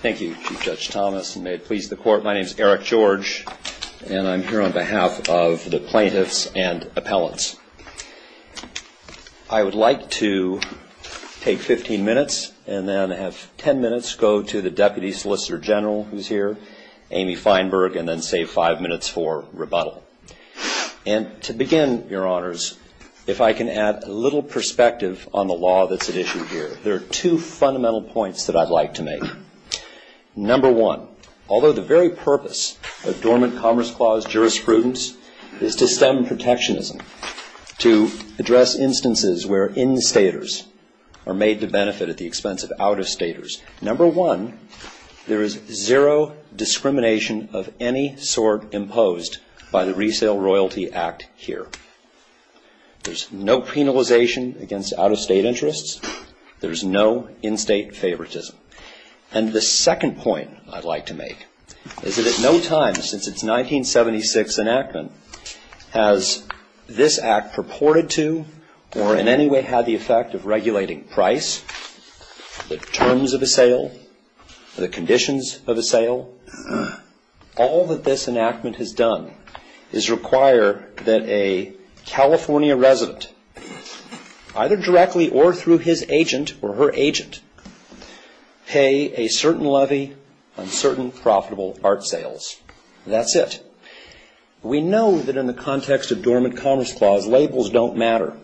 Thank you, Chief Judge Thomas, and may it please the Court, my name is Eric George, and I'm here on behalf of the plaintiffs and appellants. I would like to take 15 minutes and then have 10 minutes go to the Deputy Solicitor General who's here, Amy Feinberg, and then save 5 minutes for rebuttal. And to begin, Your Honors, if I can add a little perspective on the law that's at issue here, there are two fundamental points that I'd like to make. Number one, although the very purpose of Dormant Commerce Clause jurisprudence is to stem protectionism, to address instances where instators are made to benefit at the expense of out-of-staters, number one, there is zero discrimination of any sort imposed by the Resale Royalty Act here. There's no penalization against out-of-state interests. There's no in-state favoritism. And the second point I'd like to make is that at no time since its 1976 enactment has this Act purported to or in any way had the effect of regulating price, the terms of a sale, the conditions of a sale. All that this enactment has done is require that a California resident, either directly or through his agent or her agent, pay a certain levy on certain profitable art sales. That's it. We know that in the context of Dormant Commerce Clause labels don't matter.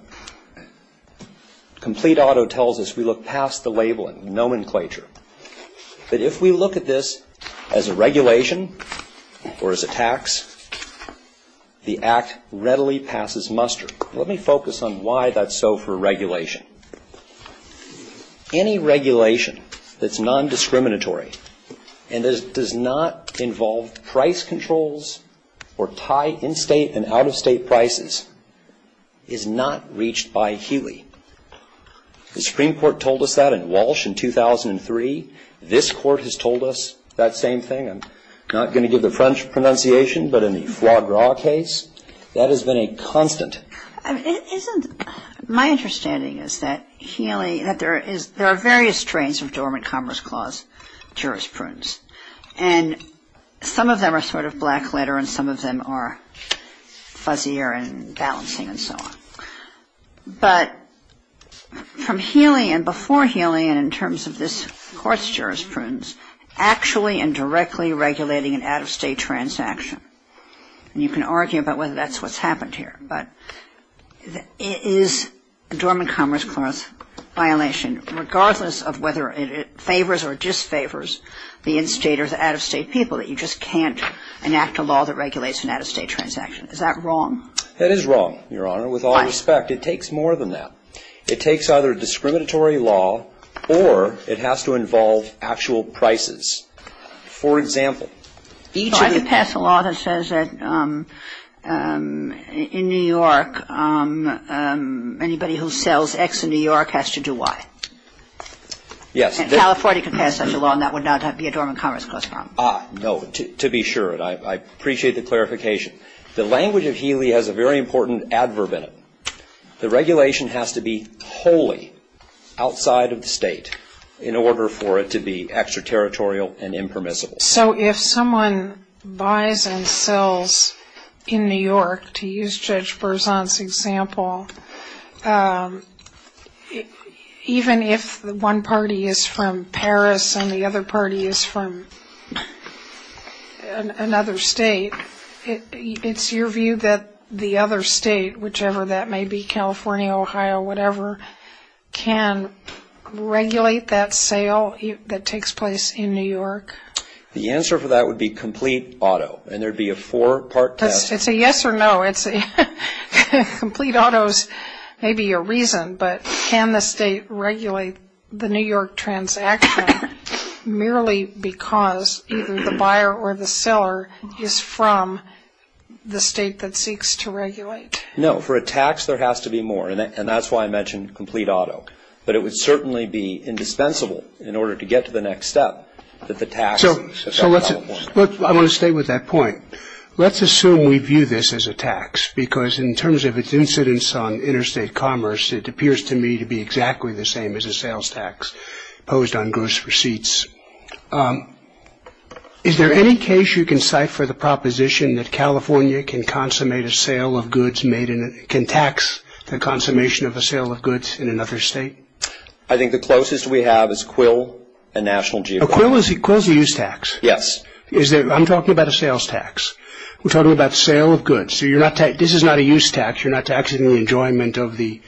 Complete auto tells us we look past the label and nomenclature. But if we look at this as a regulation or as a tax, the Act readily passes muster. Let me focus on why that's so for regulation. Any regulation that's nondiscriminatory and does not involve price controls or tie in-state and out-of-state prices is not reached by Healy. The Supreme Court told us that in Walsh in 2003. This Court has told us that same thing. I'm not going to give the French pronunciation, but in the Foie Gras case, that has been a constant. My understanding is that there are various strains of Dormant Commerce Clause jurisprudence, and some of them are sort of black letter and some of them are fuzzier and balancing and so on. But from Healy and before Healy and in terms of this Court's jurisprudence, actually and directly regulating an out-of-state transaction, and you can argue about whether that's what's happened here, but it is a Dormant Commerce Clause violation, regardless of whether it favors or disfavors the in-state or the out-of-state people, that you just can't enact a law that regulates an out-of-state transaction. Is that wrong? That is wrong, Your Honor, with all respect. Why? It takes more than that. It takes either discriminatory law or it has to involve actual prices. For example, each of the ---- I could pass a law that says that in New York, anybody who sells X in New York has to do Y. Yes. California could pass such a law and that would not be a Dormant Commerce Clause problem. Ah, no, to be sure. I appreciate the clarification. The language of Healy has a very important adverb in it. The regulation has to be wholly outside of the state in order for it to be extraterritorial and impermissible. So if someone buys and sells in New York, to use Judge Berzon's example, even if one party is from Paris and the other party is from another state, it's your view that the other state, whichever that may be, California, Ohio, whatever, can regulate that sale that takes place in New York? The answer for that would be complete auto, and there would be a four-part test. It's a yes or no. Complete auto is maybe a reason, but can the state regulate the New York transaction merely because either the buyer or the seller is from the state that seeks to regulate? No. For a tax, there has to be more, and that's why I mentioned complete auto. But it would certainly be indispensable in order to get to the next step that the tax has got to be more. So let's – look, I want to stay with that point. Let's assume we view this as a tax because in terms of its incidence on interstate commerce, it appears to me to be exactly the same as a sales tax imposed on gross receipts. Is there any case you can cipher the proposition that California can consummate a sale of goods made in – can tax the consummation of a sale of goods in another state? I think the closest we have is Quill, a national geopark. Quill is a use tax. Yes. I'm talking about a sales tax. We're talking about sale of goods. So you're not – this is not a use tax. You're not taxing the enjoyment of the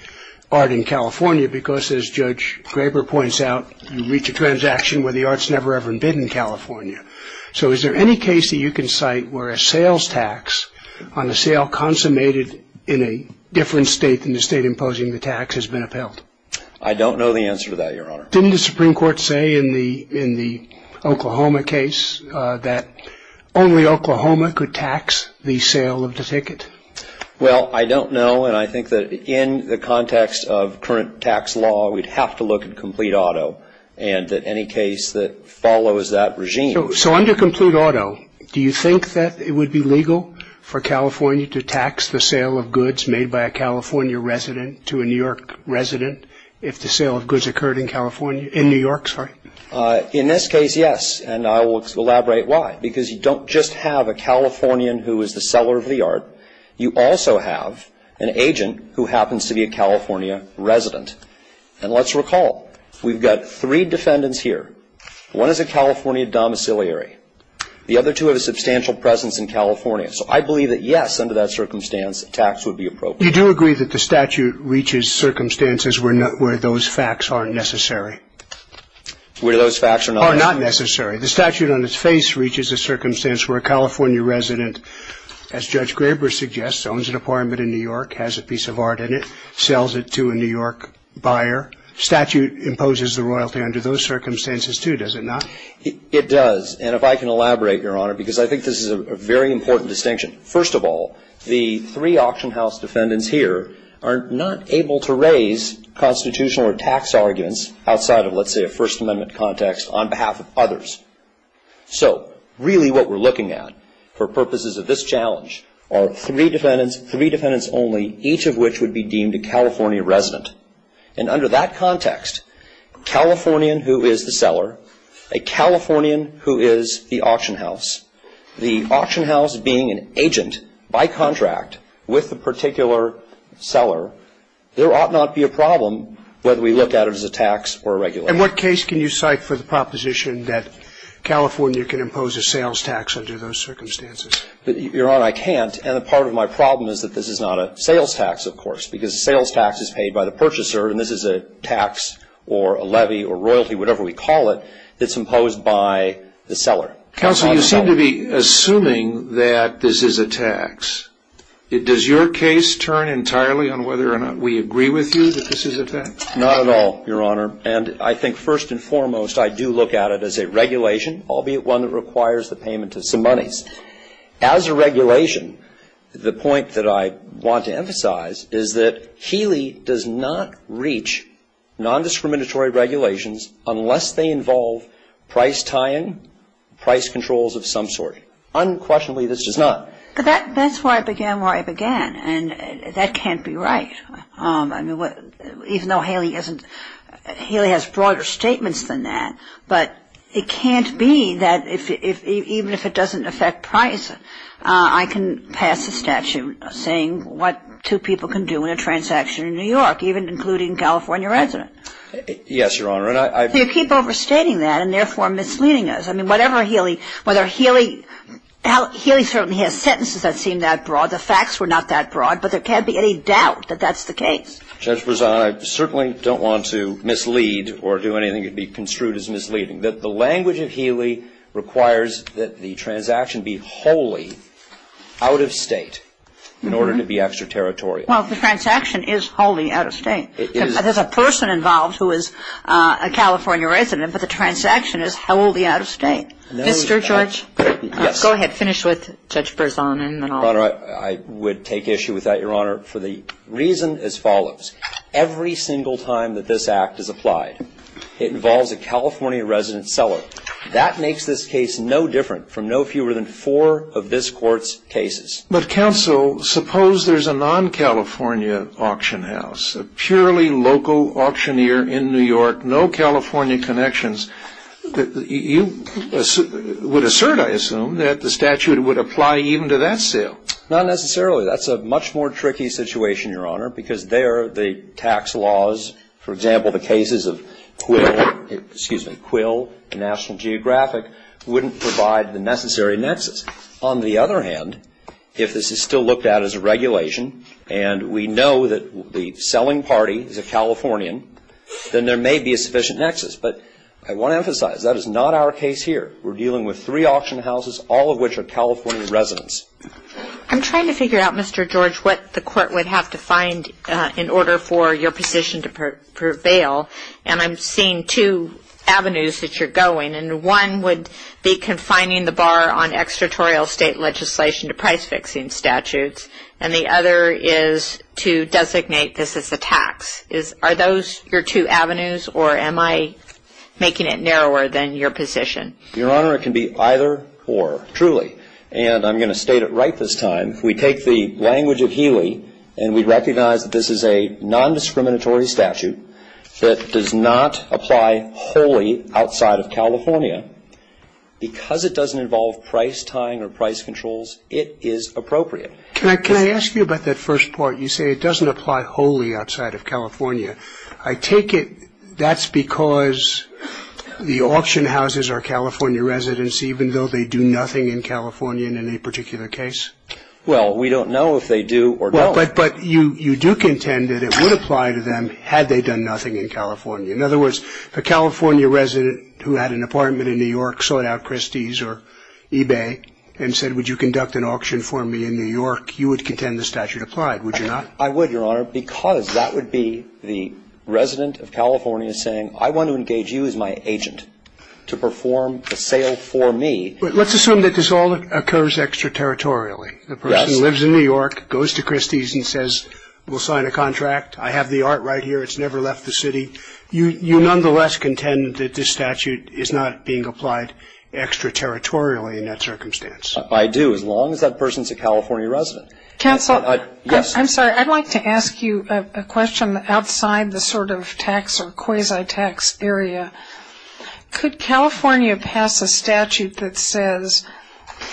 art in California because, as Judge Graber points out, you reach a transaction where the art's never, ever been in California. So is there any case that you can cite where a sales tax on a sale consummated in a different state than the state imposing the tax has been upheld? I don't know the answer to that, Your Honor. Didn't the Supreme Court say in the Oklahoma case that only Oklahoma could tax the sale of the ticket? Well, I don't know, and I think that in the context of current tax law, we'd have to look at complete auto and any case that follows that regime. So under complete auto, do you think that it would be legal for California to tax the sale of goods made by a California resident to a New York resident if the sale of goods occurred in California – in New York, sorry? In this case, yes, and I will elaborate why. Because you don't just have a Californian who is the seller of the art. You also have an agent who happens to be a California resident. And let's recall, we've got three defendants here. One is a California domiciliary. The other two have a substantial presence in California. So I believe that, yes, under that circumstance, a tax would be appropriate. You do agree that the statute reaches circumstances where those facts aren't necessary? Where those facts are not necessary. Are not necessary. The statute on its face reaches a circumstance where a California resident, as Judge Graber suggests, owns an apartment in New York, has a piece of art in it, sells it to a New York buyer. Statute imposes the royalty under those circumstances, too, does it not? It does. And if I can elaborate, Your Honor, because I think this is a very important distinction. First of all, the three auction house defendants here are not able to raise constitutional or tax arguments outside of, let's say, a First Amendment context on behalf of others. So really what we're looking at for purposes of this challenge are three defendants, three defendants only, each of which would be deemed a California resident. And under that context, Californian who is the seller, a Californian who is the auction house, the auction house being an agent by contract with the particular seller, there ought not be a problem whether we look at it as a tax or a regulation. In what case can you cite for the proposition that California can impose a sales tax under those circumstances? Your Honor, I can't. And part of my problem is that this is not a sales tax, of course, because a sales tax is paid by the purchaser and this is a tax or a levy or royalty, whatever we call it, that's imposed by the seller. Counsel, you seem to be assuming that this is a tax. Does your case turn entirely on whether or not we agree with you that this is a tax? Not at all, Your Honor. And I think first and foremost I do look at it as a regulation, albeit one that requires the payment of some monies. As a regulation, the point that I want to emphasize is that HEALE does not reach nondiscriminatory regulations unless they involve price tying, price controls of some sort. Unquestionably, this does not. That's why I began where I began, and that can't be right. I mean, even though HEALE has broader statements than that, but it can't be that even if it doesn't affect price, I can pass a statute saying what two people can do in a transaction in New York, even including a California resident. Yes, Your Honor. You keep overstating that and therefore misleading us. I mean, whatever HEALE, whether HEALE – HEALE certainly has sentences that seem that broad. The facts were not that broad, but there can't be any doubt that that's the case. Justice Brezina, I certainly don't want to mislead or do anything that would be construed as misleading. The language of HEALE requires that the transaction be wholly out of state in order to be extraterritorial. Well, if the transaction is wholly out of state. There's a person involved who is a California resident, but the transaction is wholly out of state. Mr. George. Yes. Go ahead. Finish with Judge Brezina. Your Honor, I would take issue with that, Your Honor, for the reason as follows. Every single time that this Act is applied, it involves a California resident seller. But, counsel, suppose there's a non-California auction house, a purely local auctioneer in New York, no California connections. You would assert, I assume, that the statute would apply even to that sale. Not necessarily. That's a much more tricky situation, Your Honor, because there the tax laws, for example, the cases of Quill, excuse me, Quill, the National Geographic, wouldn't provide the necessary nexus. On the other hand, if this is still looked at as a regulation and we know that the selling party is a Californian, then there may be a sufficient nexus. But I want to emphasize, that is not our case here. We're dealing with three auction houses, all of which are California residents. I'm trying to figure out, Mr. George, what the Court would have to find in order for your position to prevail. And I'm seeing two avenues that you're going. And one would be confining the bar on extraterritorial state legislation to price-fixing statutes. And the other is to designate this as a tax. Are those your two avenues, or am I making it narrower than your position? Your Honor, it can be either or, truly. And I'm going to state it right this time. We take the language of Healy, and we recognize that this is a nondiscriminatory statute that does not apply wholly outside of California. Because it doesn't involve price tying or price controls, it is appropriate. Can I ask you about that first part? You say it doesn't apply wholly outside of California. I take it that's because the auction houses are California residents, even though they do nothing in California in any particular case? Well, we don't know if they do or don't. But you do contend that it would apply to them had they done nothing in California. In other words, the California resident who had an apartment in New York sought out Christie's or eBay and said, would you conduct an auction for me in New York, you would contend the statute applied, would you not? I would, Your Honor, because that would be the resident of California saying, I want to engage you as my agent to perform the sale for me. Let's assume that this all occurs extraterritorially. Yes. The person lives in New York, goes to Christie's and says, we'll sign a contract. I have the art right here. It's never left the city. You nonetheless contend that this statute is not being applied extraterritorially in that circumstance? I do, as long as that person is a California resident. Counselor? Yes. I'm sorry. I'd like to ask you a question outside the sort of tax or quasi-tax area. Could California pass a statute that says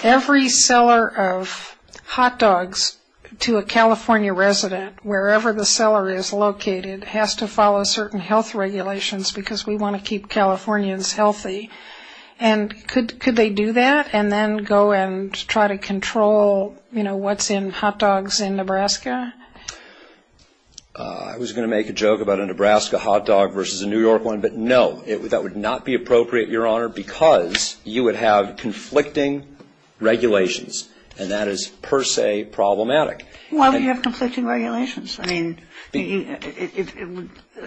every seller of hot dogs to a California resident, wherever the seller is located, has to follow certain health regulations because we want to keep Californians healthy? And could they do that and then go and try to control, you know, what's in hot dogs in Nebraska? I was going to make a joke about a Nebraska hot dog versus a New York one. But, no, that would not be appropriate, Your Honor, because you would have conflicting regulations, and that is per se problematic. Why would you have conflicting regulations? I mean,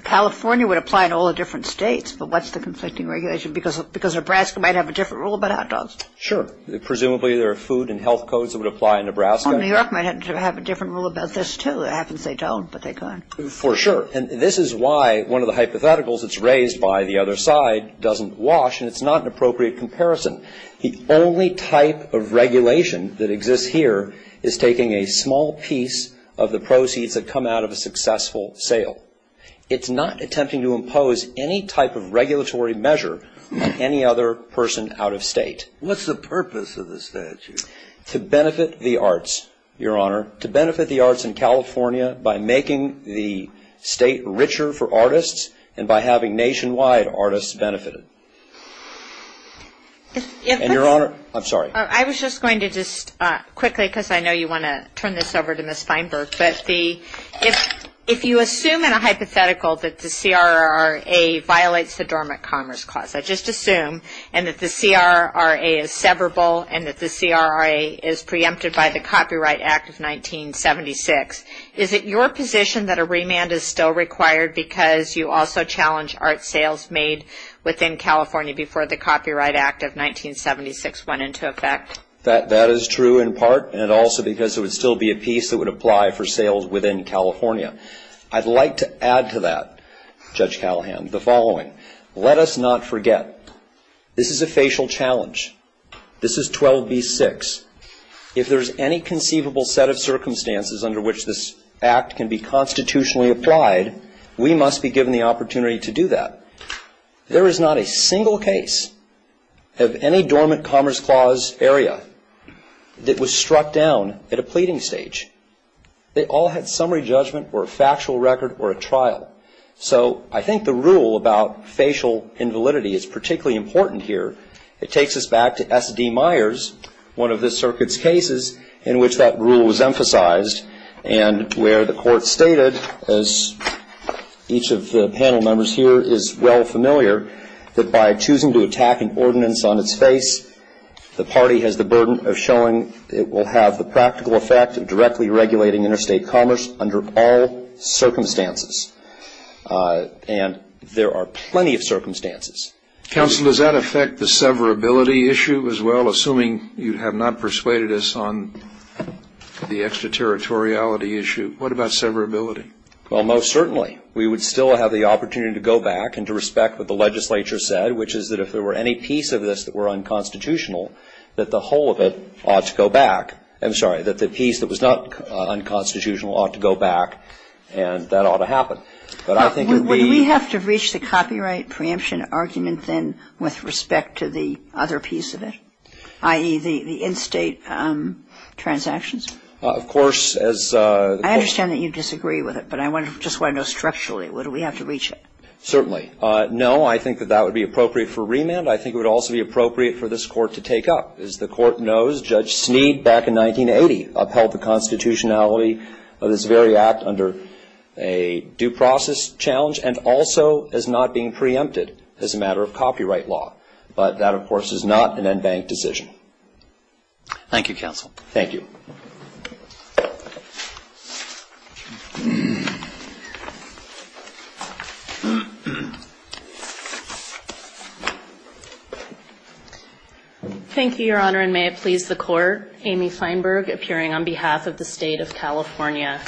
California would apply to all the different states, but what's the conflicting regulation? Because Nebraska might have a different rule about hot dogs. Sure. Presumably there are food and health codes that would apply in Nebraska. Well, New York might have to have a different rule about this, too. It happens they don't, but they could. For sure. And this is why one of the hypotheticals that's raised by the other side doesn't wash, and it's not an appropriate comparison. The only type of regulation that exists here is taking a small piece of the proceeds that come out of a successful sale. It's not attempting to impose any type of regulatory measure on any other person out of state. What's the purpose of the statute? To benefit the arts, Your Honor. To benefit the arts in California by making the state richer for artists and by having nationwide artists benefited. And, Your Honor, I'm sorry. I was just going to just quickly, because I know you want to turn this over to Ms. Feinberg, but if you assume in a hypothetical that the CRRA violates the Dormant Commerce Clause, I just assume, and that the CRRA is severable and that the CRRA is preempted by the Copyright Act of 1976, is it your position that a remand is still required because you also challenge art sales made within California before the Copyright Act of 1976 went into effect? That is true in part and also because it would still be a piece that would apply for sales within California. I'd like to add to that, Judge Callahan, the following. Let us not forget this is a facial challenge. This is 12b-6. If there's any conceivable set of circumstances under which this act can be constitutionally applied, we must be given the opportunity to do that. There is not a single case of any Dormant Commerce Clause area that was struck down at a pleading stage. They all had summary judgment or a factual record or a trial. So I think the rule about facial invalidity is particularly important here. It takes us back to S.D. Myers, one of the circuit's cases in which that rule was emphasized and where the court stated, as each of the panel members here is well familiar, that by choosing to attack an ordinance on its face, the party has the burden of showing it will have the practical effect of directly regulating interstate commerce under all circumstances. And there are plenty of circumstances. Counsel, does that affect the severability issue as well, assuming you have not persuaded us on the extraterritoriality issue? What about severability? Well, most certainly. We would still have the opportunity to go back and to respect what the legislature said, which is that if there were any piece of this that were unconstitutional, that the whole of it ought to go back. I'm sorry, that the piece that was not unconstitutional ought to go back, and that ought to happen. But I think it would be — Would we have to reach the copyright preemption argument then with respect to the other piece of it, i.e., the in-state transactions? Of course, as — I understand that you disagree with it, but I just want to know structurally. Would we have to reach it? Certainly. No, I think that that would be appropriate for remand. I think it would also be appropriate for this Court to take up. As the Court knows, Judge Snead back in 1980 upheld the constitutionality of this very act under a due process challenge and also as not being preempted as a matter of copyright law. But that, of course, is not an en banc decision. Thank you, counsel. Thank you. Thank you, Your Honor, and may it please the Court. Amy Feinberg, appearing on behalf of the State of California.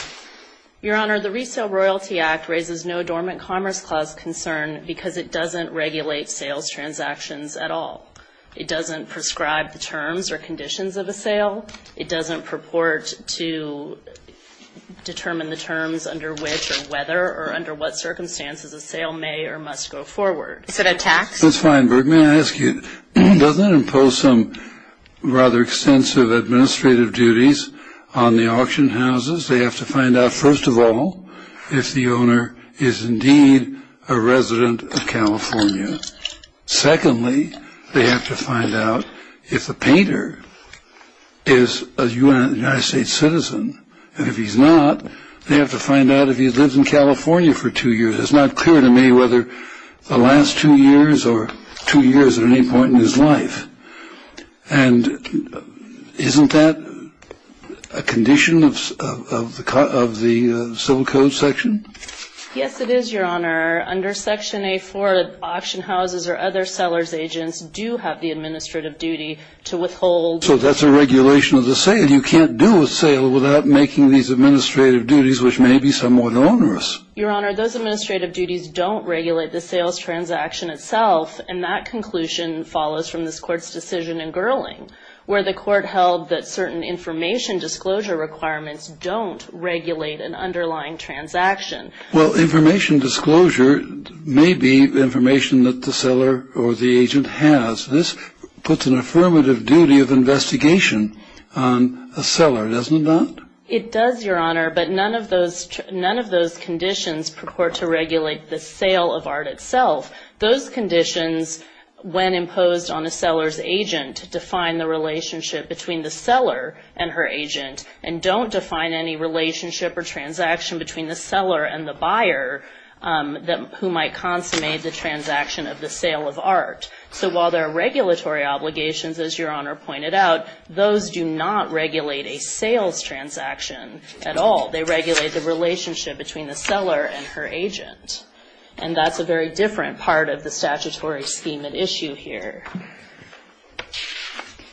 Your Honor, the Resale Royalty Act raises no dormant Commerce Clause concern because it doesn't regulate sales transactions at all. It doesn't prescribe the terms or conditions of a sale. It doesn't purport to determine the terms under which or whether or under what circumstances a sale may or must go forward. Is it a tax? Ms. Feinberg, may I ask you, doesn't it impose some rather extensive administrative duties on the auction houses? They have to find out, first of all, if the owner is indeed a resident of California. Secondly, they have to find out if the painter is a United States citizen. And if he's not, they have to find out if he's lived in California for two years. It's not clear to me whether the last two years or two years at any point in his life. And isn't that a condition of the Civil Code section? Yes, it is, Your Honor. Under Section A-4, auction houses or other sellers' agents do have the administrative duty to withhold. So that's a regulation of the sale. You can't do a sale without making these administrative duties, which may be somewhat onerous. Your Honor, those administrative duties don't regulate the sales transaction itself. And that conclusion follows from this Court's decision in Gerling, where the Court held that certain information disclosure requirements don't regulate an underlying transaction. Well, information disclosure may be information that the seller or the agent has. This puts an affirmative duty of investigation on a seller, doesn't it not? It does, Your Honor, but none of those conditions purport to regulate the sale of art itself. Those conditions, when imposed on a seller's agent, define the relationship between the seller and her agent and don't define any relationship or transaction between the seller and the buyer who might consummate the transaction of the sale of art. So while there are regulatory obligations, as Your Honor pointed out, those do not regulate a sales transaction at all. They regulate the relationship between the seller and her agent. And that's a very different part of the statutory scheme at issue here.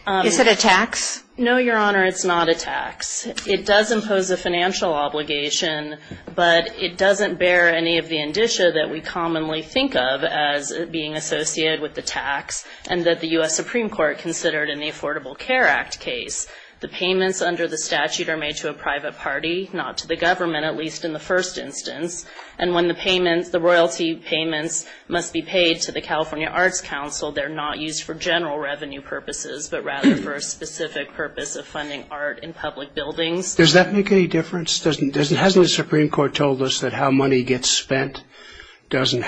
Is it a tax? No, Your Honor, it's not a tax. It does impose a financial obligation, but it doesn't bear any of the indicia that we commonly think of as being associated with the tax and that the U.S. Supreme Court considered in the Affordable Care Act case. The payments under the statute are made to a private party, not to the government, at least in the first instance. And when the royalty payments must be paid to the California Arts Council, they're not used for general revenue purposes, but rather for a specific purpose of funding art in public buildings. Does that make any difference? Hasn't the Supreme Court told us that how money gets spent doesn't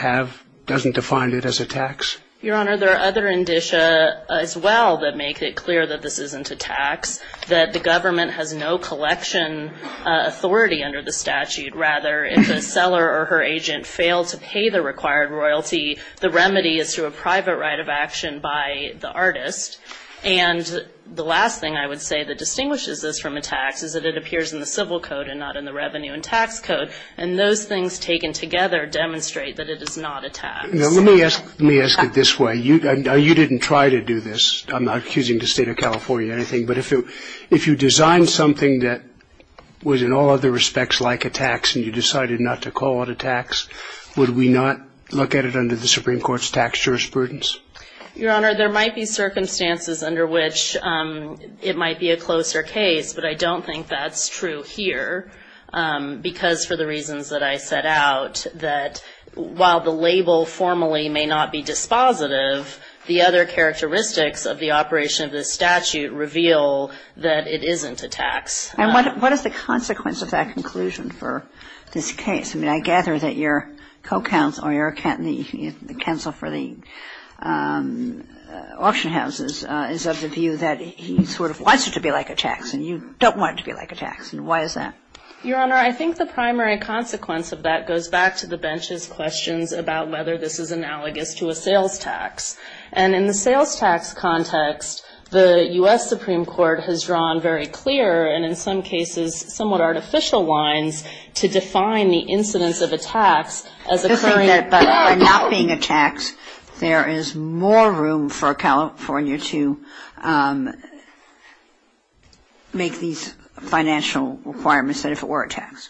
define it as a tax? Your Honor, there are other indicia as well that make it clear that this isn't a tax, that the government has no collection authority under the statute. Rather, if a seller or her agent failed to pay the required royalty, the remedy is through a private right of action by the artist. And the last thing I would say that distinguishes this from a tax is that it appears in the civil code and not in the revenue and tax code. And those things taken together demonstrate that it is not a tax. Let me ask it this way. You didn't try to do this. I'm not accusing the State of California of anything. But if you designed something that was in all other respects like a tax and you decided not to call it a tax, would we not look at it under the Supreme Court's tax jurisprudence? Your Honor, there might be circumstances under which it might be a closer case, but I don't think that's true here because for the reasons that I set out, that while the label formally may not be dispositive, the other characteristics of the operation of this statute reveal that it isn't a tax. And what is the consequence of that conclusion for this case? I mean, I gather that your co-counsel or your counsel for the auction houses is of the view that he sort of wants it to be like a tax and you don't want it to be like a tax. And why is that? Your Honor, I think the primary consequence of that goes back to the bench's questions about whether this is analogous to a sales tax. And in the sales tax context, the U.S. Supreme Court has drawn very clear and in some cases somewhat artificial lines to define the incidence of a tax as occurring. You're saying that by not being a tax, there is more room for California to make these financial requirements as if it were a tax?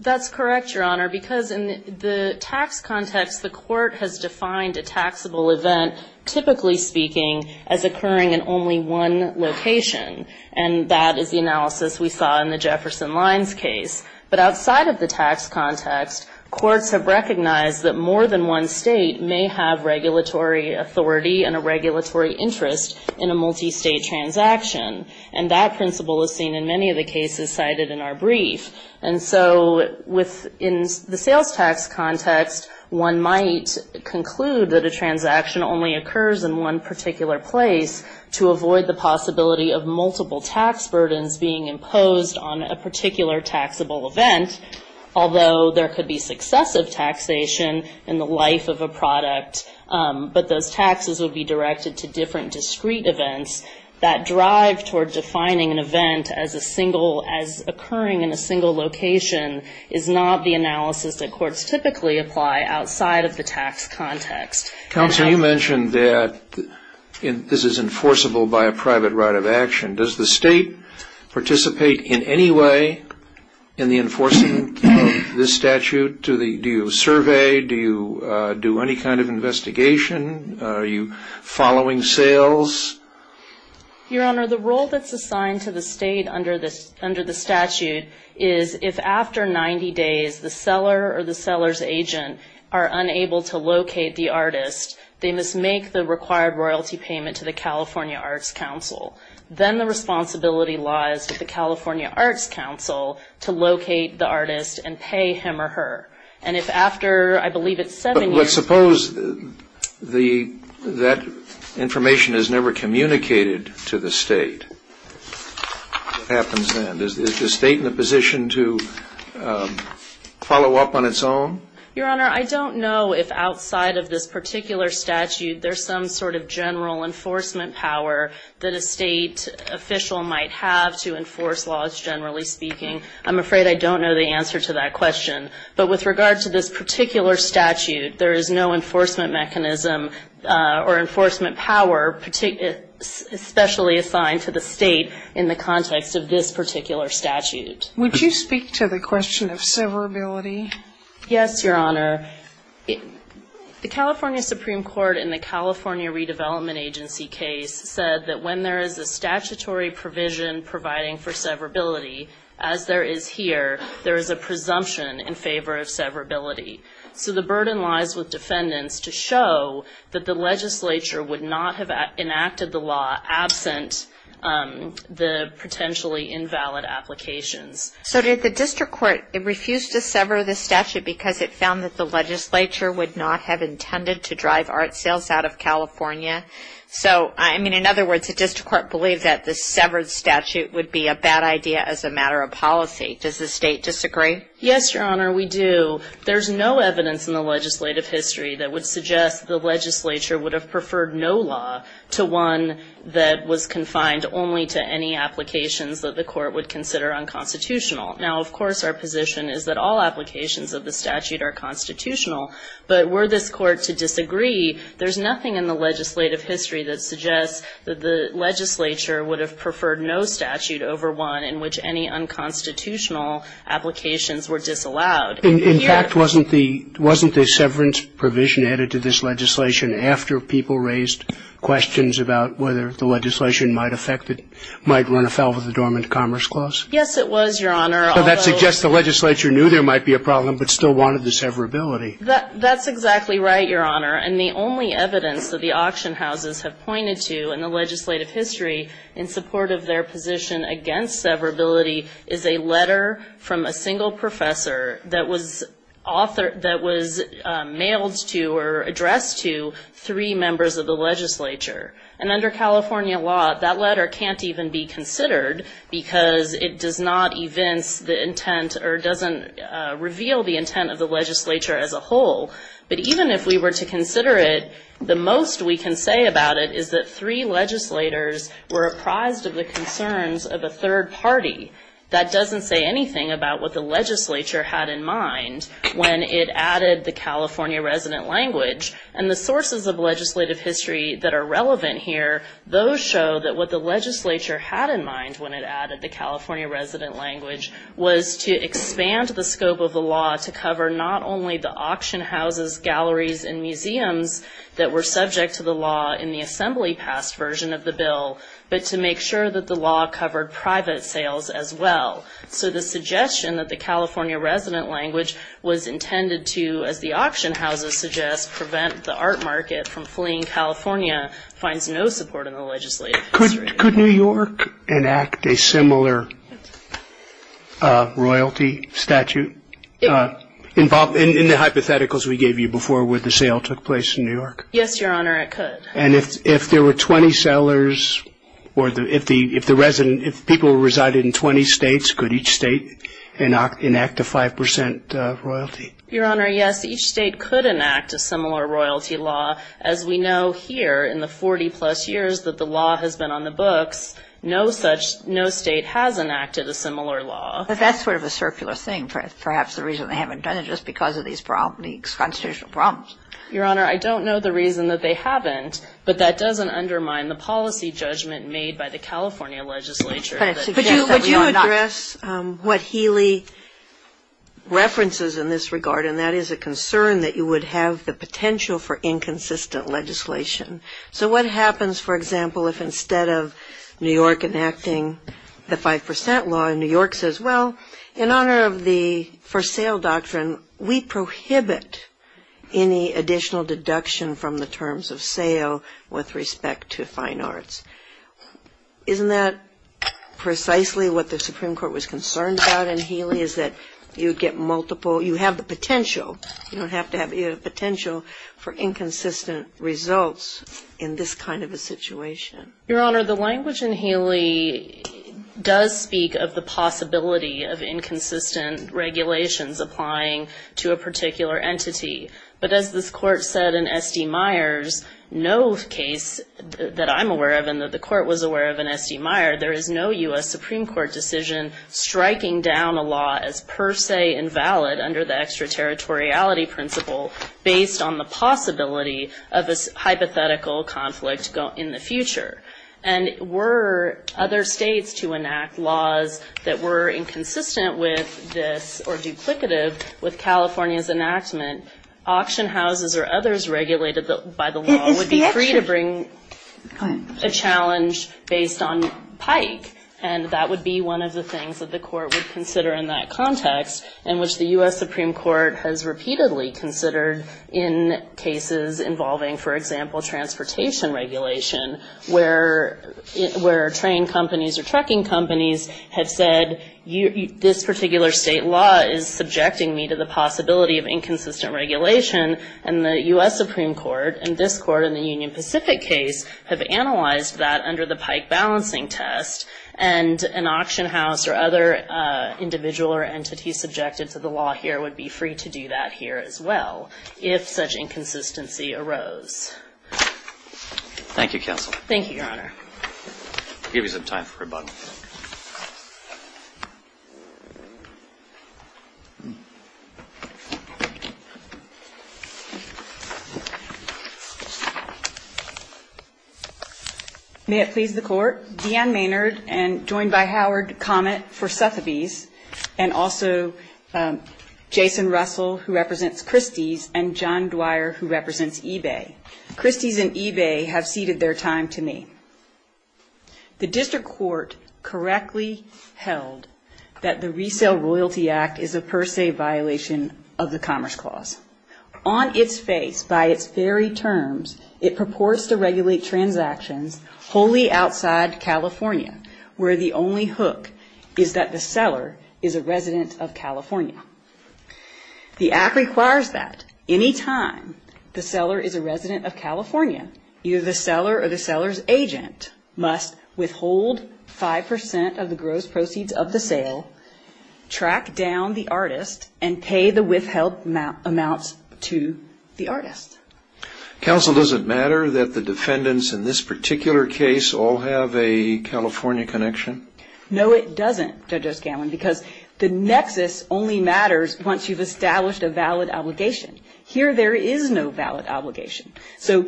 That's correct, Your Honor. Because in the tax context, the court has defined a taxable event, typically speaking, as occurring in only one location. And that is the analysis we saw in the Jefferson Lines case. But outside of the tax context, courts have recognized that more than one state may have regulatory authority and a regulatory interest in a multi-state transaction. And that principle is seen in many of the cases cited in our brief. And so in the sales tax context, one might conclude that a transaction only occurs in one particular place to avoid the possibility of multiple tax burdens being imposed on a particular taxable event, although there could be successive taxation in the life of a product. But those taxes would be directed to different discrete events that drive toward defining an event as occurring in a single location is not the analysis that courts typically apply outside of the tax context. Counsel, you mentioned that this is enforceable by a private right of action. Does the state participate in any way in the enforcing of this statute? Do you survey? Do you do any kind of investigation? Are you following sales? Your Honor, the role that's assigned to the state under the statute is if after 90 days the seller or the seller's agent are unable to locate the artist, they must make the required royalty payment to the California Arts Council. Then the responsibility lies with the California Arts Council to locate the artist and pay him or her. And if after, I believe it's seven years. Well, let's suppose that information is never communicated to the state. What happens then? Is the state in a position to follow up on its own? Your Honor, I don't know if outside of this particular statute there's some sort of general enforcement power that a state official might have to enforce laws, generally speaking. I'm afraid I don't know the answer to that question. But with regard to this particular statute, there is no enforcement mechanism or enforcement power especially assigned to the state in the context of this particular statute. Would you speak to the question of severability? Yes, Your Honor. The California Supreme Court in the California Redevelopment Agency case said that when there is a statutory provision providing for severability, as there is here, there is a presumption in favor of severability. So the burden lies with defendants to show that the legislature would not have enacted the law absent the potentially invalid applications. So did the district court refuse to sever the statute because it found that the legislature would not have intended to drive art sales out of California? So, I mean, in other words, the district court believed that the severed statute would be a bad idea as a matter of policy. Does the state disagree? Yes, Your Honor, we do. There's no evidence in the legislative history that would suggest the legislature would have preferred no law to one that was confined only to any applications that the court would consider unconstitutional. Now, of course, our position is that all applications of the statute are constitutional. But were this court to disagree, there's nothing in the legislative history that suggests that the legislature would have preferred no statute over one in which any unconstitutional applications were disallowed. In fact, wasn't the severance provision added to this legislation after people raised questions about whether the legislation might affect it, might run afoul of the Dormant Commerce Clause? Yes, it was, Your Honor. So that suggests the legislature knew there might be a problem but still wanted the severability. That's exactly right, Your Honor. And the only evidence that the auction houses have pointed to in the legislative history in support of their position against severability is a letter from a single professor that was authored, that was mailed to or addressed to three members of the legislature. And under California law, that letter can't even be considered because it does not evince the intent or doesn't reveal the intent of the legislature as a whole. But even if we were to consider it, the most we can say about it is that three legislators were apprised of the concerns of a third party. That doesn't say anything about what the legislature had in mind when it added the California resident language. And the sources of legislative history that are relevant here, those show that what the legislature had in mind when it added the California resident language was to expand the scope of the law to cover not only the auction houses, galleries, and museums that were subject to the law in the assembly-passed version of the bill, but to make sure that the law covered private sales as well. So the suggestion that the California resident language was intended to, as the auction houses suggest, prevent the art market from fleeing California finds no support in the legislative history. Could New York enact a similar royalty statute in the hypotheticals we gave you before where the sale took place in New York? Yes, Your Honor, it could. And if there were 20 sellers or if the resident, if people resided in 20 states, could each state enact a 5% royalty? Your Honor, yes, each state could enact a similar royalty law. As we know here in the 40-plus years that the law has been on the books, no such, no state has enacted a similar law. But that's sort of a circular thing, perhaps the reason they haven't done it, just because of these constitutional problems. Your Honor, I don't know the reason that they haven't, but that doesn't undermine the policy judgment made by the California legislature. But you address what Healy references in this regard, and that is a concern that you would have the potential for inconsistent legislation. So what happens, for example, if instead of New York enacting the 5% law, New York says, well, in honor of the for sale doctrine, we prohibit any additional deduction from the terms of sale with respect to fine arts. Isn't that precisely what the Supreme Court was concerned about in Healy, is that you get multiple, you have the potential, you don't have to have the potential for inconsistent results in this kind of a situation? Your Honor, the language in Healy does speak of the possibility of inconsistent regulations applying to a particular entity. But as this Court said in S.D. Myers, no case that I'm aware of and that the Court was aware of in S.D. Myers, there is no U.S. Supreme Court decision striking down a law as per se invalid under the extraterritoriality principle, based on the possibility of a hypothetical conflict in the future. And were other states to enact laws that were inconsistent with this, or duplicative with California's enactment, auction houses or others regulated by the law would be free to bring a challenge based on pike. And that would be one of the things that the Court would consider in that context, in which the U.S. Supreme Court has repeatedly considered in cases involving, for example, transportation regulation, where train companies or trucking companies have said, this particular state law is subjecting me to the possibility of inconsistent regulation. And the U.S. Supreme Court and this Court in the Union Pacific case have analyzed that under the pike balancing test. And an auction house or other individual or entity subjected to the law here would be free to do that here as well, if such inconsistency arose. Thank you, Your Honor. I'll give you some time for rebuttal. May it please the Court. Deanne Maynard, and joined by Howard Comet for Sotheby's, and also Jason Russell, who represents Christie's, and John Dwyer, who represents eBay. Christie's and eBay have ceded their time to me. The District Court correctly held that the Resale Royalty Act is a per se violation of the Commerce Clause. On its face, by its very terms, it purports to regulate transactions wholly outside California, where the only hook is that the seller is a resident of California. The Act requires that any time the seller is a resident of California, either the seller or the seller's agent must withhold 5% of the gross proceeds of the sale, track down the artist, and pay the withheld amounts to the artist. Counsel, does it matter that the defendants in this particular case all have a California connection? No, it doesn't, Judge O'Scanlan, because the nexus only matters once you've established a valid obligation. Here there is no valid obligation. So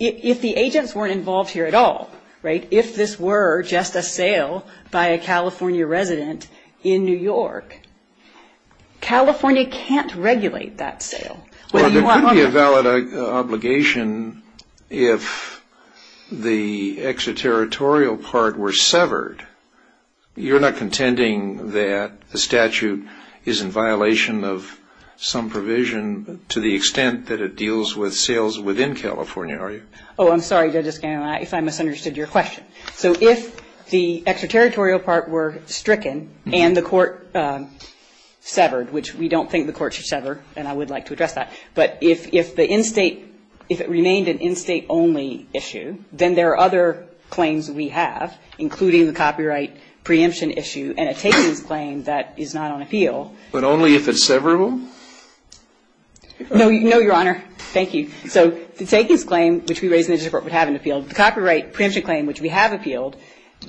if the agents weren't involved here at all, right, if this were just a sale by a California resident in New York, California can't regulate that sale. Well, there could be a valid obligation if the extraterritorial part were severed. You're not contending that the statute is in violation of some provision to the extent that it deals with sales within California, are you? Oh, I'm sorry, Judge O'Scanlan, if I misunderstood your question. So if the extraterritorial part were stricken and the court severed, which we don't think the court should sever, and I would like to address that, but if the in-State, if it remained an in-State only issue, then there are other claims we have, including the copyright preemption issue and a takings claim that is not on appeal. But only if it's severable? No, Your Honor. Thank you. So the takings claim, which we raise in the district court, would have an appeal. The copyright preemption claim, which we have appealed,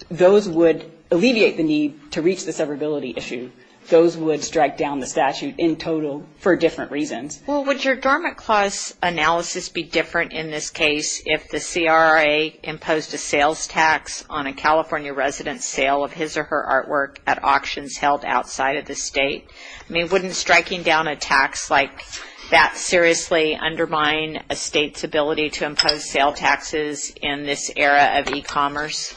those would alleviate the need to reach the severability issue. Those would strike down the statute in total for different reasons. Well, would your Dormant Clause analysis be different in this case if the CRA imposed a sales tax on a California resident's sale of his or her artwork at auctions held outside of the State? I mean, wouldn't striking down a tax like that seriously undermine a State's ability to impose sale taxes in this era of e-commerce?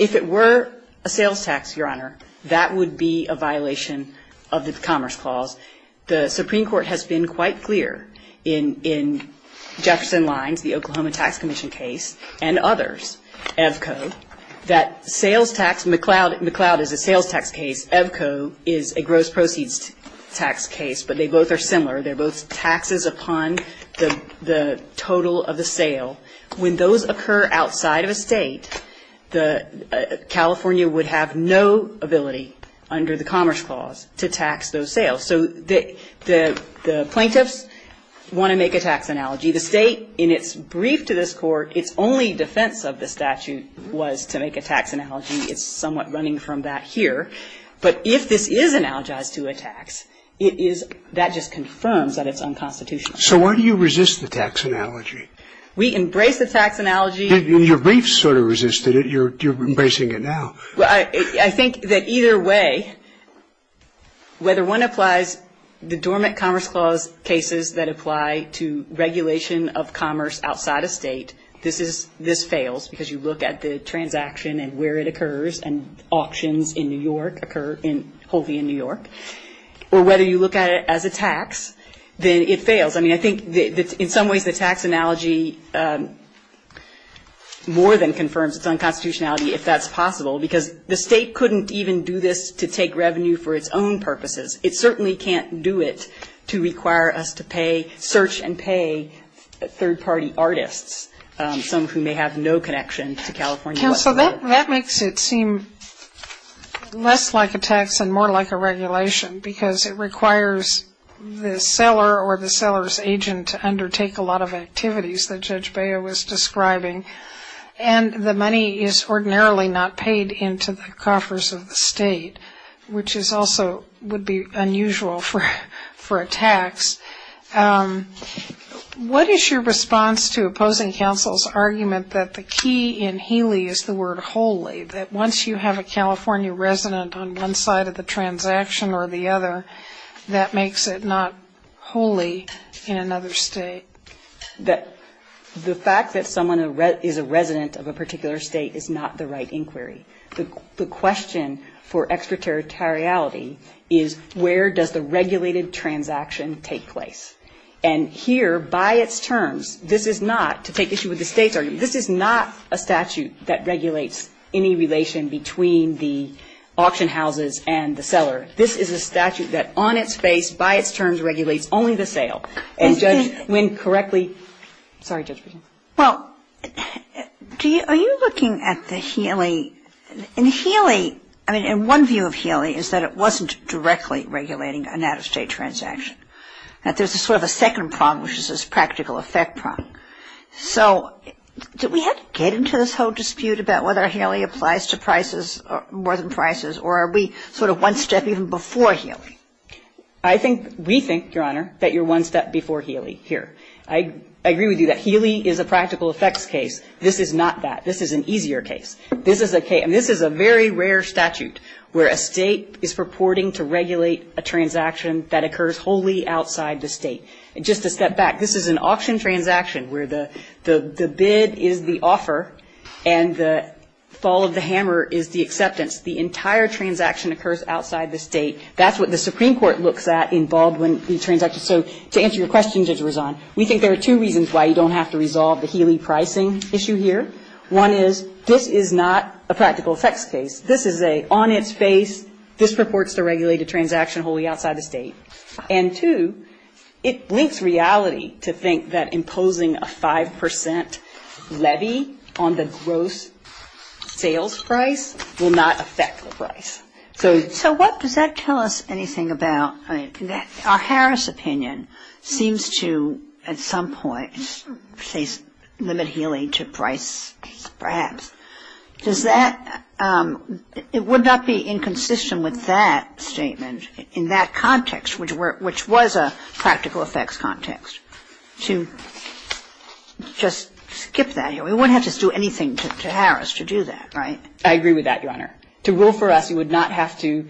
If it were a sales tax, Your Honor, that would be a violation of the Commerce Clause. The Supreme Court has been quite clear in Jefferson Lines, the Oklahoma Tax Commission case, and others, EVCO, that sales tax, McLeod is a sales tax case, EVCO is a gross proceeds tax case, but they both are similar. They're both taxes upon the total of the sale. When those occur outside of a State, the – California would have no ability under the Commerce Clause to tax those sales. So the plaintiffs want to make a tax analogy. The State, in its brief to this Court, its only defense of the statute was to make a tax analogy. It's somewhat running from that here. But if this is analogized to a tax, it is – that just confirms that it's unconstitutional. So why do you resist the tax analogy? We embrace the tax analogy. Your brief sort of resisted it. You're embracing it now. Well, I think that either way, whether one applies the dormant Commerce Clause cases that apply to regulation of commerce outside a State, this is – this fails because you look at the transaction and where it occurs and auctions in New York occur in – wholly in New York. Or whether you look at it as a tax, then it fails. I mean, I think that in some ways the tax analogy more than confirms its unconstitutionality, if that's possible. Because the State couldn't even do this to take revenue for its own purposes. It certainly can't do it to require us to pay – search and pay third-party artists, some who may have no connection to California. Counsel, that makes it seem less like a tax and more like a regulation because it requires the seller or the seller's agent to undertake a lot of activities that Judge Baya was describing. And the money is ordinarily not paid into the coffers of the State, which is also – would be unusual for a tax. What is your response to opposing counsel's argument that the key in Healy is the word wholly, that once you have a California resident on one side of the border, that makes it not wholly in another State? The fact that someone is a resident of a particular State is not the right inquiry. The question for extraterritoriality is where does the regulated transaction take place. And here, by its terms, this is not – to take issue with the State's argument, this is not a statute that regulates any relation between the auction houses and the seller. This is a statute that on its face, by its terms, regulates only the sale. And Judge Wynn correctly – sorry, Judge Britten. Well, do you – are you looking at the Healy – in Healy – I mean, in one view of Healy is that it wasn't directly regulating an out-of-State transaction. That there's a sort of a second problem, which is this practical effect problem. So did we have to get into this whole dispute about whether Healy applies to prices – more than prices – or are we sort of one step even before Healy? I think – we think, Your Honor, that you're one step before Healy here. I agree with you that Healy is a practical effects case. This is not that. This is an easier case. This is a case – I mean, this is a very rare statute where a State is purporting to regulate a transaction that occurs wholly outside the State. Just a step back. The entire transaction occurs outside the State. That's what the Supreme Court looks at in Baldwin when we transact. So to answer your question, Judge Razon, we think there are two reasons why you don't have to resolve the Healy pricing issue here. One is this is not a practical effects case. This is a on-its-face, this purports to regulate a transaction wholly outside the State. And two, it links reality to think that imposing a 5% levy on the gross sales price will not affect the price. So what – does that tell us anything about – I mean, our Harris opinion seems to, at some point, say limit Healy to price perhaps. Does that – it would not be inconsistent with that statement in that context, right? Which was a practical effects context. To just skip that here. We wouldn't have to do anything to Harris to do that, right? I agree with that, Your Honor. To rule for us, you would not have to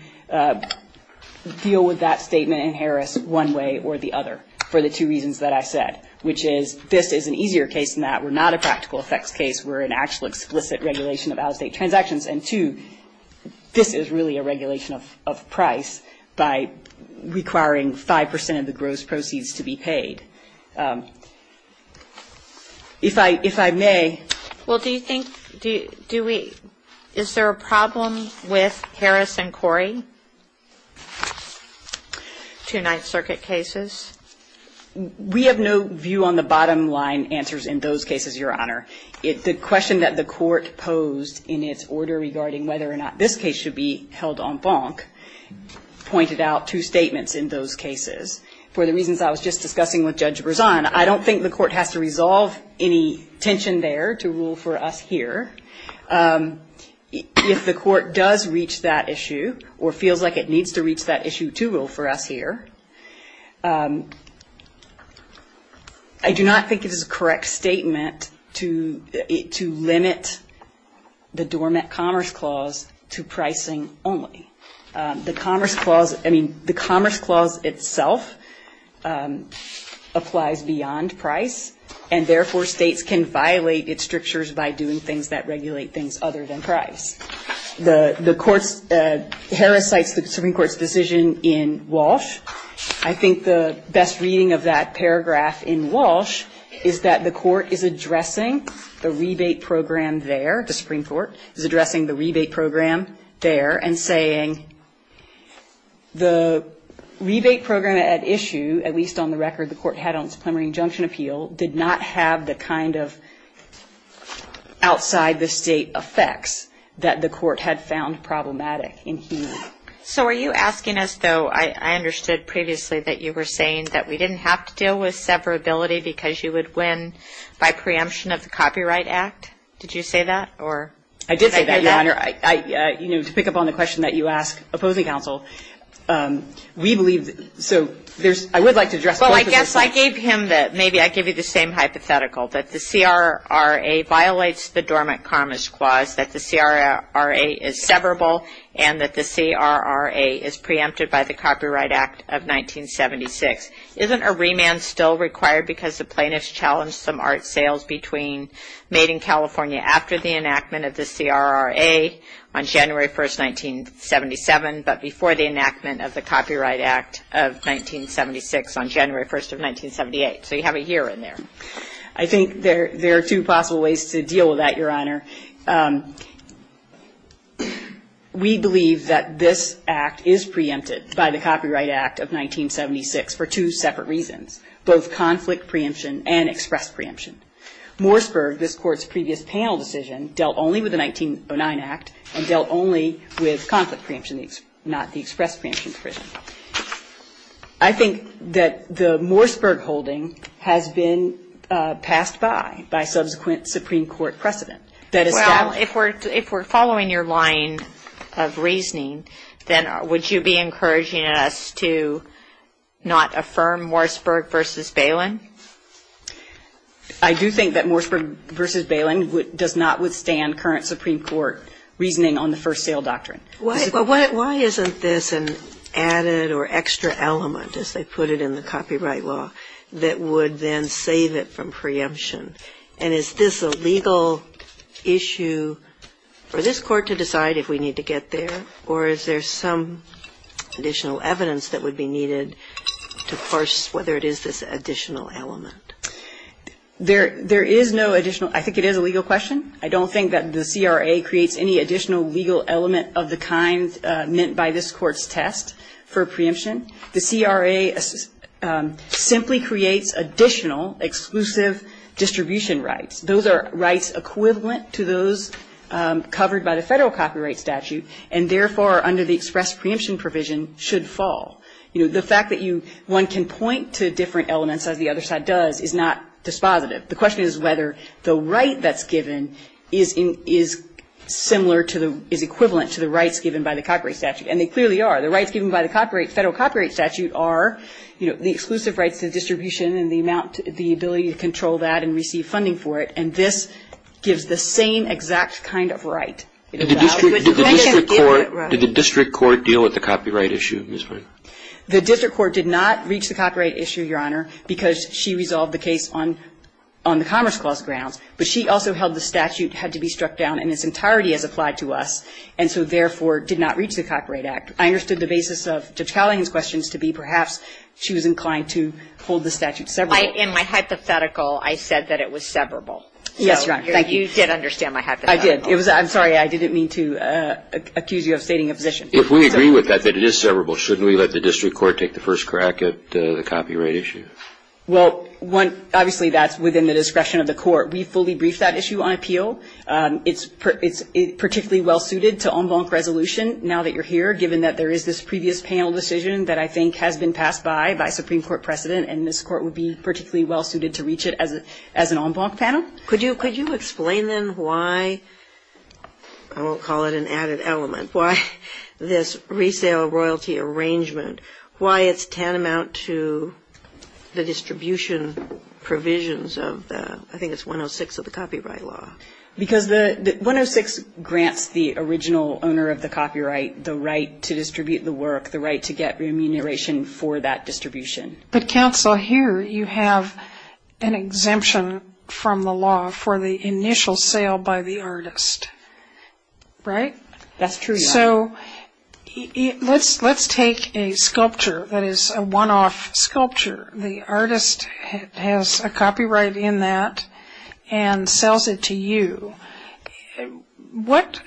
deal with that statement in Harris one way or the other for the two reasons that I said, which is this is an easier case than that. We're not a practical effects case. We're an actual explicit regulation of out-of-State transactions. And two, this is really a regulation of price by requiring 5% of the gross proceeds to be paid. If I may. Well, do you think – do we – is there a problem with Harris and Corey, two Ninth Circuit cases? We have no view on the bottom line answers in those cases, Your Honor. The question that the court posed in its order regarding whether or not this case should be held en banc pointed out two statements in those cases. For the reasons I was just discussing with Judge Berzon, I don't think the court has to resolve any tension there to rule for us here. If the court does reach that issue or feels like it needs to reach that issue to rule for us here, I do not think it is a correct statement to limit the Dormant Commerce Clause to pricing only. The Commerce Clause – I mean, the Commerce Clause itself applies beyond price, and therefore, States can violate its strictures by doing things that regulate things other than price. The court's – Harris cites the Supreme Court's decision in Walsh. I think the best reading of that paragraph in Walsh is that the court is addressing the rebate program there – the Supreme Court is addressing the rebate program there and saying the rebate program at issue, at least on the record the court had on its preliminary injunction appeal, did not have the kind of outside-the-State effects that the court had found problematic in here. So are you asking us, though – I understood previously that you were saying that we didn't have to deal with severability because you would win by preemption of the Copyright Act? Did you say that? I did say that, Your Honor. You know, to pick up on the question that you asked opposing counsel, we believe – so there's – I would like to address both of those things. Well, I guess I gave him the – maybe I gave you the same hypothetical, that the CRRA violates the Dormant Commerce Clause, that the CRRA is severable, and that the CRRA is preempted by the Copyright Act of 1976. Isn't a remand still required because the plaintiffs challenged some art sales between Made in California after the enactment of the CRRA on January 1, 1977, but before the enactment of the Copyright Act of 1976 on January 1, 1978? So you have a year in there. I think there are two possible ways to deal with that, Your Honor. We believe that this Act is preempted by the Copyright Act of 1976 for two separate reasons, both conflict preemption and express preemption. Morseburg, this Court's previous panel decision, dealt only with the 1909 Act and dealt only with conflict preemption, not the express preemption provision. I think that the Morseburg holding has been passed by, by subsequent Supreme Court precedent. Well, if we're following your line of reasoning, then would you be encouraging us to not affirm Morseburg v. Bailyn? I do think that Morseburg v. Bailyn does not withstand current Supreme Court reasoning on the first sale doctrine. Why isn't this an added or extra element, as they put it in the copyright law, that would then save it from preemption? And is this a legal issue for this Court to decide if we need to get there, or is there some additional evidence that would be needed to parse whether it is this additional element? There is no additional. I think it is a legal question. I don't think that the CRA creates any additional legal element of the kind meant by this Court's test for preemption. The CRA simply creates additional exclusive distribution rights. Those are rights equivalent to those covered by the Federal copyright statute, and therefore, under the express preemption provision, should fall. You know, the fact that one can point to different elements, as the other side does, is not dispositive. The question is whether the right that's given is similar to the, is equivalent to the rights given by the copyright statute, and they clearly are. The rights given by the copyright, Federal copyright statute are, you know, the exclusive rights to distribution and the amount, the ability to control that and receive funding for it. And this gives the same exact kind of right. Did the district court deal with the copyright issue? The district court did not reach the copyright issue, Your Honor, because she resolved the case on the Commerce Clause grounds. But she also held the statute had to be struck down in its entirety as applied to us, and so therefore did not reach the Copyright Act. I understood the basis of Judge Callahan's questions to be perhaps she was inclined to hold the statute severable. In my hypothetical, I said that it was severable. Yes, Your Honor. Thank you. You did understand my hypothetical. I did. I'm sorry. I didn't mean to accuse you of stating a position. If we agree with that, that it is severable, shouldn't we let the district court take the first crack at the copyright issue? Well, one, obviously, that's within the discretion of the court. We fully briefed that issue on appeal. It's particularly well suited to en banc resolution now that you're here, given that there is this previous panel decision that I think has been passed by, by Supreme Court precedent, and this Court would be particularly well suited to reach it as an en banc panel. Could you explain then why, I won't call it an added element, why this resale royalty arrangement, why it's tantamount to the distribution provisions of the, I think it's 106 of the copyright law. Because the 106 grants the original owner of the copyright the right to distribute the work, the right to get remuneration for that distribution. But, counsel, here you have an exemption from the law for the initial sale by the artist, right? That's true, Your Honor. So let's take a sculpture that is a one-off sculpture. The artist has a copyright in that and sells it to you. What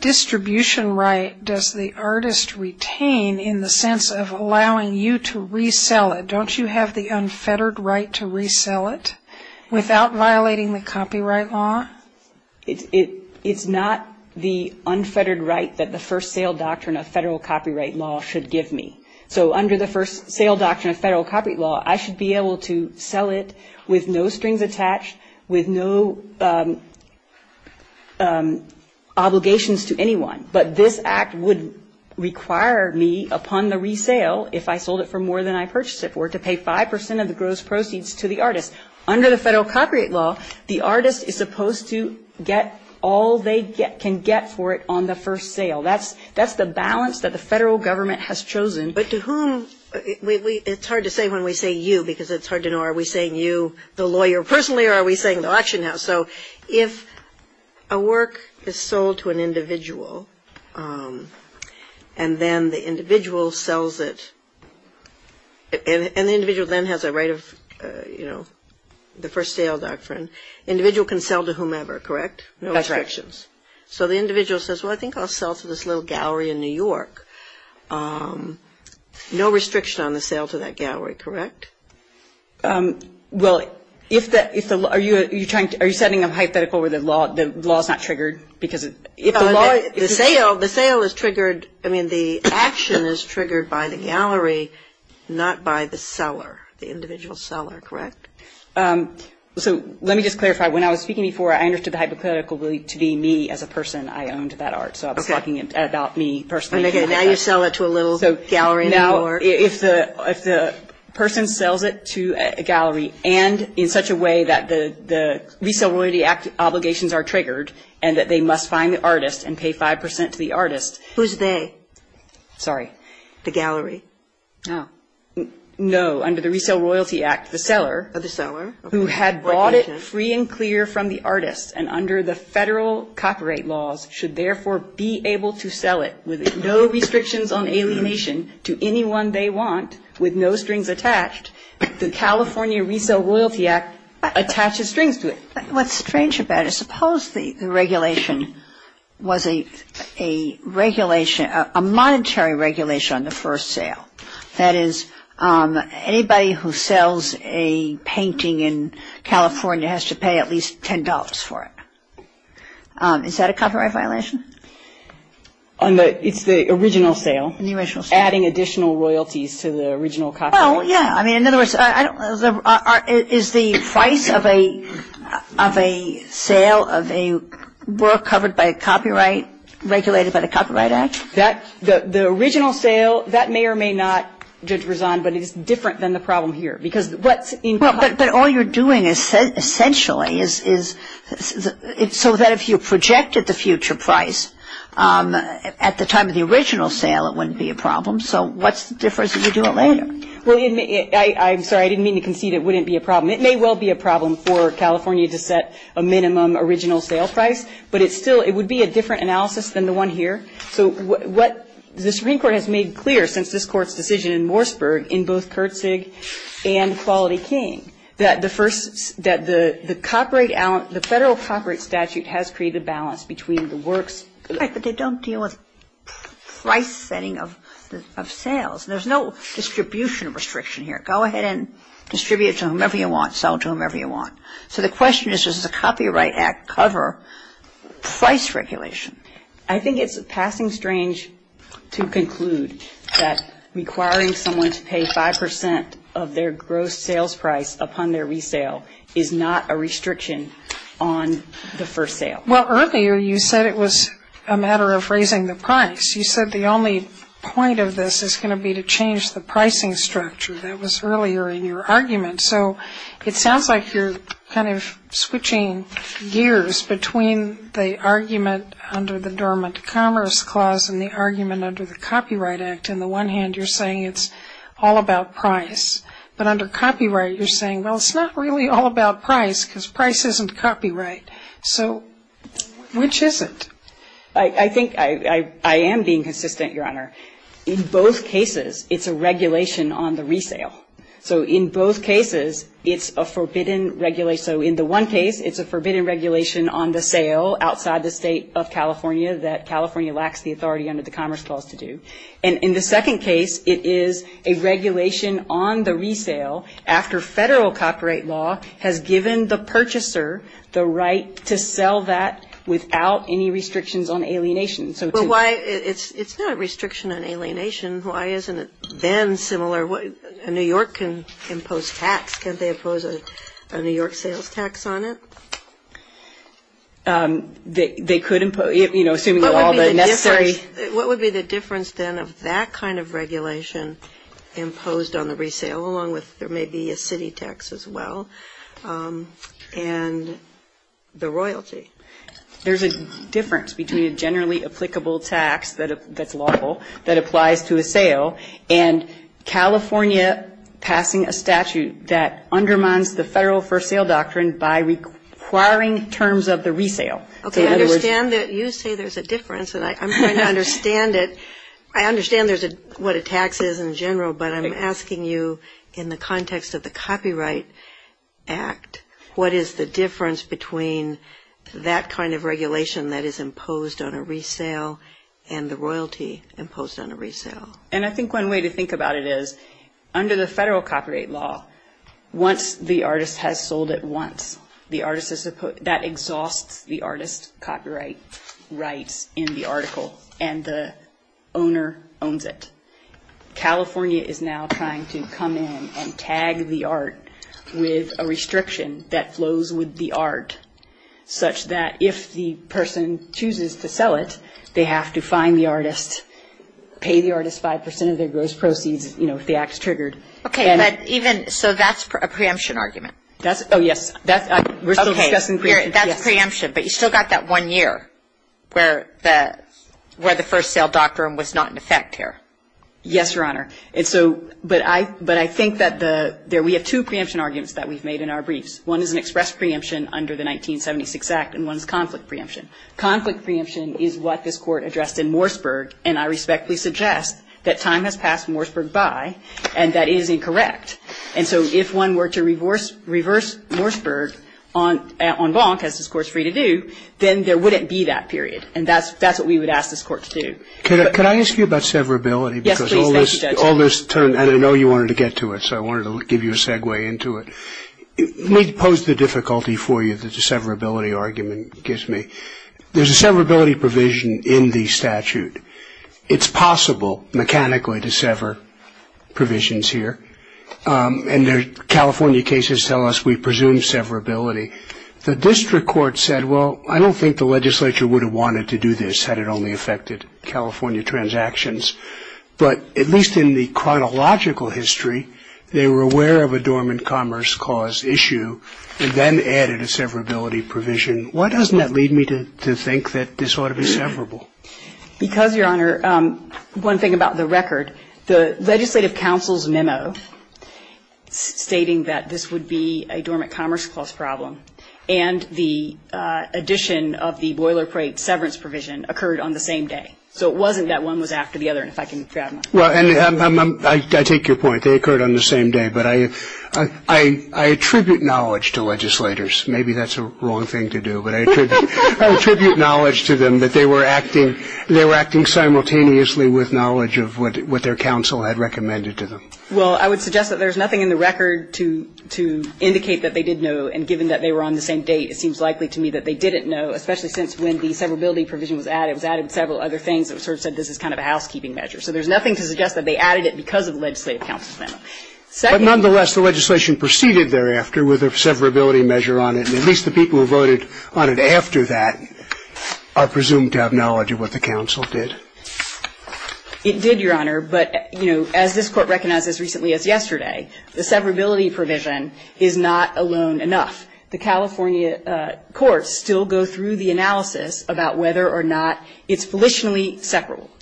distribution right does the artist retain in the sense of allowing you to resell it? Don't you have the unfettered right to resell it without violating the copyright law? It's not the unfettered right that the first sale doctrine of federal copyright law should give me. So under the first sale doctrine of federal copyright law, I should be able to sell it with no strings attached, with no obligations to anyone. But this act would require me upon the resale, if I sold it for more than I purchased it for, to pay 5% of the gross proceeds to the artist. Under the federal copyright law, the artist is supposed to get all they can get for it on the first sale. That's the balance that the federal government has chosen. But to whom? It's hard to say when we say you because it's hard to know, are we saying you the lawyer personally or are we saying the auction house? So if a work is sold to an individual and then the individual sells it, and the individual then has a right of, you know, the first sale doctrine, the individual can sell to whomever, correct? That's right. No restrictions. So the individual says, well, I think I'll sell to this little gallery in New York. No restriction on the sale to that gallery, correct? Well, if the law, are you trying to, are you setting a hypothetical where the law is not triggered? The sale is triggered, I mean, the action is triggered by the gallery, not by the seller, the individual seller, correct? So let me just clarify. When I was speaking before, I understood the hypothetical to be me as a person. I owned that art, so I was talking about me personally. Okay. Now you sell it to a little gallery in New York. Now if the person sells it to a gallery and in such a way that the Resale Royalty Act obligations are triggered and that they must find the artist and pay 5 percent to the artist. Who's they? Sorry? The gallery. Oh. No. Under the Resale Royalty Act, the seller. The seller. Who had bought it free and clear from the artist and under the federal copyright laws should therefore be able to sell it with no restrictions on alienation to anyone they want with no strings attached. The California Resale Royalty Act attaches strings to it. What's strange about it, suppose the regulation was a regulation, a monetary regulation on the first sale. That is anybody who sells a painting in California has to pay at least $10 for it. Is that a copyright violation? It's the original sale. The original sale. Adding additional royalties to the original copyright. Well, yeah. I mean, in other words, is the price of a sale of a work covered by a copyright regulated by the Copyright Act? The original sale, that may or may not, Judge Rizan, but it's different than the problem here. But all you're doing essentially is so that if you projected the future price at the time of the original sale, it wouldn't be a problem. So what's the difference if you do it later? I'm sorry. I didn't mean to concede it wouldn't be a problem. It may well be a problem for California to set a minimum original sale price, but it would be a different analysis than the one here. So what the Supreme Court has made clear since this Court's decision in Morseburg in both Kurtzig and Quality King, that the first the copyright, the federal copyright statute has created a balance between the works. Right, but they don't deal with price setting of sales. There's no distribution restriction here. Go ahead and distribute to whomever you want, sell to whomever you want. So the question is, does the Copyright Act cover price regulation? I think it's passing strange to conclude that requiring someone to pay 5% of their gross sales price upon their resale is not a restriction on the first sale. Well, earlier you said it was a matter of raising the price. You said the only point of this is going to be to change the pricing structure. That was earlier in your argument. So it sounds like you're kind of switching gears between the argument under the Dormant Commerce Clause and the argument under the Copyright Act. On the one hand, you're saying it's all about price. But under copyright, you're saying, well, it's not really all about price because price isn't copyright. So which is it? I think I am being consistent, Your Honor. In both cases, it's a regulation on the resale. So in both cases, it's a forbidden regulation. So in the one case, it's a forbidden regulation on the sale outside the state of California that California lacks the authority under the Commerce Clause to do. And in the second case, it is a regulation on the resale after federal copyright law has given the purchaser the right to sell that without any restrictions on alienation. It's not a restriction on alienation. Why isn't it then similar? A New York can impose tax. Can't they impose a New York sales tax on it? They could impose, you know, assuming all the necessary. What would be the difference then of that kind of regulation imposed on the resale along with there may be a city tax as well and the royalty? There's a difference between a generally applicable tax that's lawful, that applies to a sale, and California passing a statute that undermines the federal for sale doctrine by requiring terms of the resale. Okay. I understand that you say there's a difference, and I'm trying to understand it. I understand what a tax is in general, but I'm asking you in the context of the Copyright Act, what is the difference between that kind of regulation that is imposed on a resale and the royalty imposed on a resale? And I think one way to think about it is under the federal copyright law, once the artist has sold it once, that exhausts the artist's copyright rights in the article, and the owner owns it. California is now trying to come in and tag the art with a restriction that flows with the art such that if the person chooses to sell it, they have to find the artist, pay the artist 5% of their gross proceeds, you know, if the act is triggered. Okay. So that's a preemption argument? Oh, yes. That's preemption, but you still got that one year where the first sale doctrine was not in effect here. Yes, Your Honor. But I think that we have two preemption arguments that we've made in our briefs. One is an express preemption under the 1976 Act, and one is conflict preemption. Conflict preemption is what this Court addressed in Morseburg, and I respectfully suggest that time has passed Morseburg by, and that is incorrect. And so if one were to reverse Morseburg on Blanc, as this Court is free to do, then there wouldn't be that period, and that's what we would ask this Court to do. Could I ask you about severability? Yes, please. Thank you, Judge. Because all this term, and I know you wanted to get to it, so I wanted to give you a segue into it. Let me pose the difficulty for you that the severability argument gives me. There's a severability provision in the statute. It's possible mechanically to sever provisions here, and California cases tell us we presume severability. The district court said, well, I don't think the legislature would have wanted to do this had it only affected California transactions. But at least in the chronological history, they were aware of a dormant commerce cause issue and then added a severability provision. Why doesn't that lead me to think that this ought to be severable? Because, Your Honor, one thing about the record. The legislative counsel's memo stating that this would be a dormant commerce cause problem and the addition of the boilerplate severance provision occurred on the same day. So it wasn't that one was after the other, if I can grab that. Well, and I take your point. They occurred on the same day. But I attribute knowledge to legislators. Maybe that's a wrong thing to do, but I attribute knowledge to them that they were acting simultaneously with knowledge of what their counsel had recommended to them. Well, I would suggest that there's nothing in the record to indicate that they did know, and given that they were on the same date, it seems likely to me that they didn't know, especially since when the severability provision was added, it was added with several other things that sort of said this is kind of a housekeeping measure. So there's nothing to suggest that they added it because of the legislative counsel's memo. But nonetheless, the legislation proceeded thereafter with a severability measure on it, and at least the people who voted on it after that are presumed to have knowledge of what the counsel did. It did, Your Honor. But, you know, as this Court recognizes recently as yesterday, the severability provision is not alone enough. The California courts still go through the analysis about whether or not it's volitionally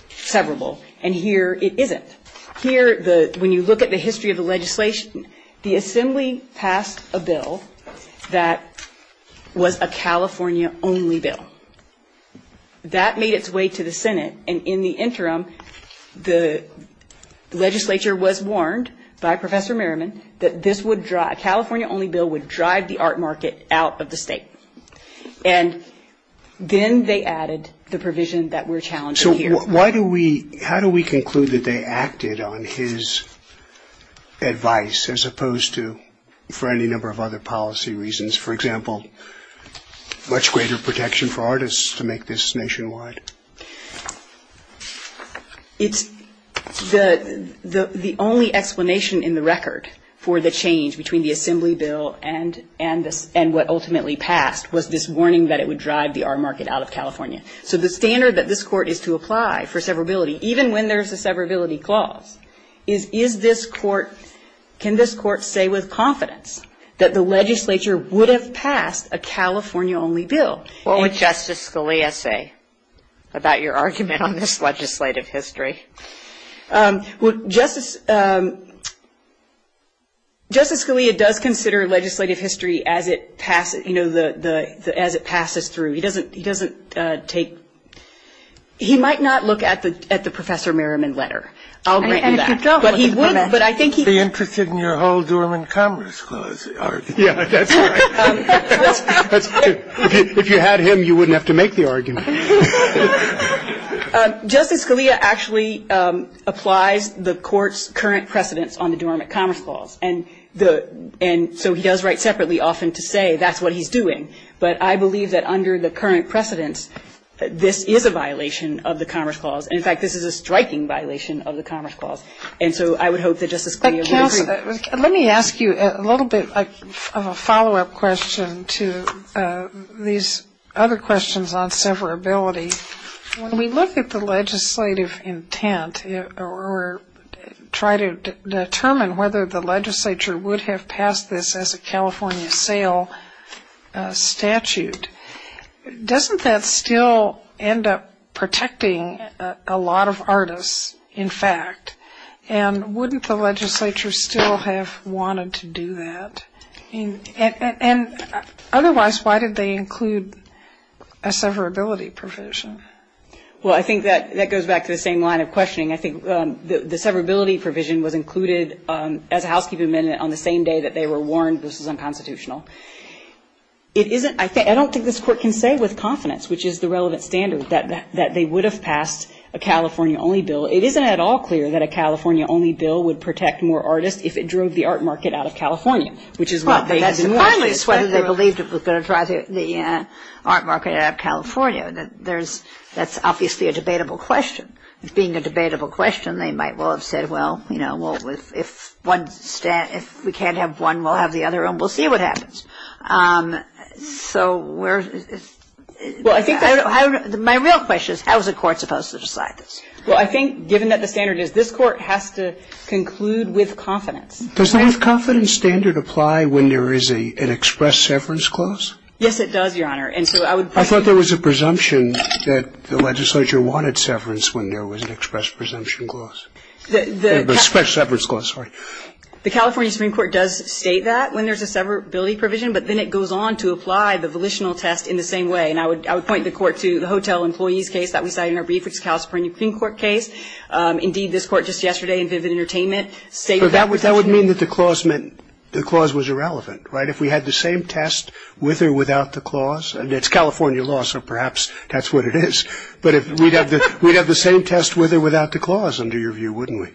severable, and here it isn't. Here, when you look at the history of the legislation, the Assembly passed a bill that was a California-only bill. That made its way to the Senate, and in the interim, the legislature was warned by Professor Merriman that this would drive, a California-only bill would drive the art market out of the state. And then they added the provision that we're challenging here. So why do we, how do we conclude that they acted on his advice as opposed to, for any number of other policy reasons, for example, much greater protection for artists to make this nationwide? It's the only explanation in the record for the change between the Assembly bill and what ultimately passed was this warning that it would drive the art market out of California. So the standard that this Court is to apply for severability, even when there's a that the legislature would have passed a California-only bill. What would Justice Scalia say about your argument on this legislative history? Well, Justice Scalia does consider legislative history as it passes, you know, as it passes through. He doesn't take, he might not look at the Professor Merriman letter. I'll grant you that. But he would, but I think he would be interested in your whole Dormant Commerce Clause argument. Yeah, that's right. That's true. If you had him, you wouldn't have to make the argument. Justice Scalia actually applies the Court's current precedence on the Dormant Commerce Clause. And the, and so he does write separately often to say that's what he's doing. But I believe that under the current precedence, this is a violation of the Commerce Clause. And, in fact, this is a striking violation of the Commerce Clause. And so I would hope that Justice Scalia would agree. Let me ask you a little bit of a follow-up question to these other questions on severability. When we look at the legislative intent or try to determine whether the legislature would have passed this as a California sale statute, doesn't that still end up protecting a lot of artists, in fact? And wouldn't the legislature still have wanted to do that? And otherwise, why did they include a severability provision? Well, I think that goes back to the same line of questioning. I think the severability provision was included as a housekeeping amendment on the same day that they were warned this was unconstitutional. It isn't, I don't think this Court can say with confidence, which is the relevant standard, that they would have passed a California-only bill. It isn't at all clear that a California-only bill would protect more artists if it drove the art market out of California, which is what they had been warned. Finally, it's whether they believed it was going to drive the art market out of California. That's obviously a debatable question. Being a debatable question, they might well have said, well, if we can't have one, we'll have the other, and we'll see what happens. So where's the real question is, how is the Court supposed to decide this? Well, I think given that the standard is this Court has to conclude with confidence. Does the with confidence standard apply when there is an express severance Yes, it does, Your Honor. I thought there was a presumption that the legislature wanted severance when there was an express presumption clause. The California Supreme Court does state that when there's a severability provision, but then it goes on to apply the volitional test in the same way. And I would point the Court to the hotel employees case that we cited in our brief, which is the California Supreme Court case. Indeed, this Court just yesterday in Vivid Entertainment stated that. But that would mean that the clause was irrelevant, right? If we had the same test with or without the clause. It's California law, so perhaps that's what it is. But we'd have the same test with or without the clause, under your view, wouldn't we?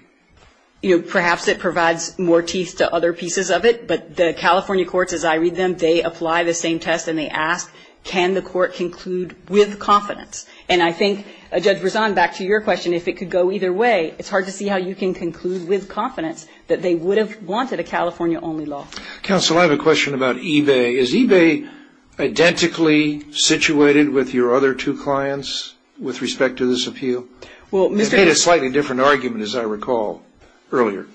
Perhaps it provides more teeth to other pieces of it. But the California courts, as I read them, they apply the same test and they ask, can the Court conclude with confidence? And I think, Judge Berzon, back to your question, if it could go either way, it's hard to see how you can conclude with confidence that they would have wanted a California only law. Counsel, I have a question about eBay. Is eBay identically situated with your other two clients with respect to this appeal? Well, Mr. They made a slightly different argument, as I recall, earlier.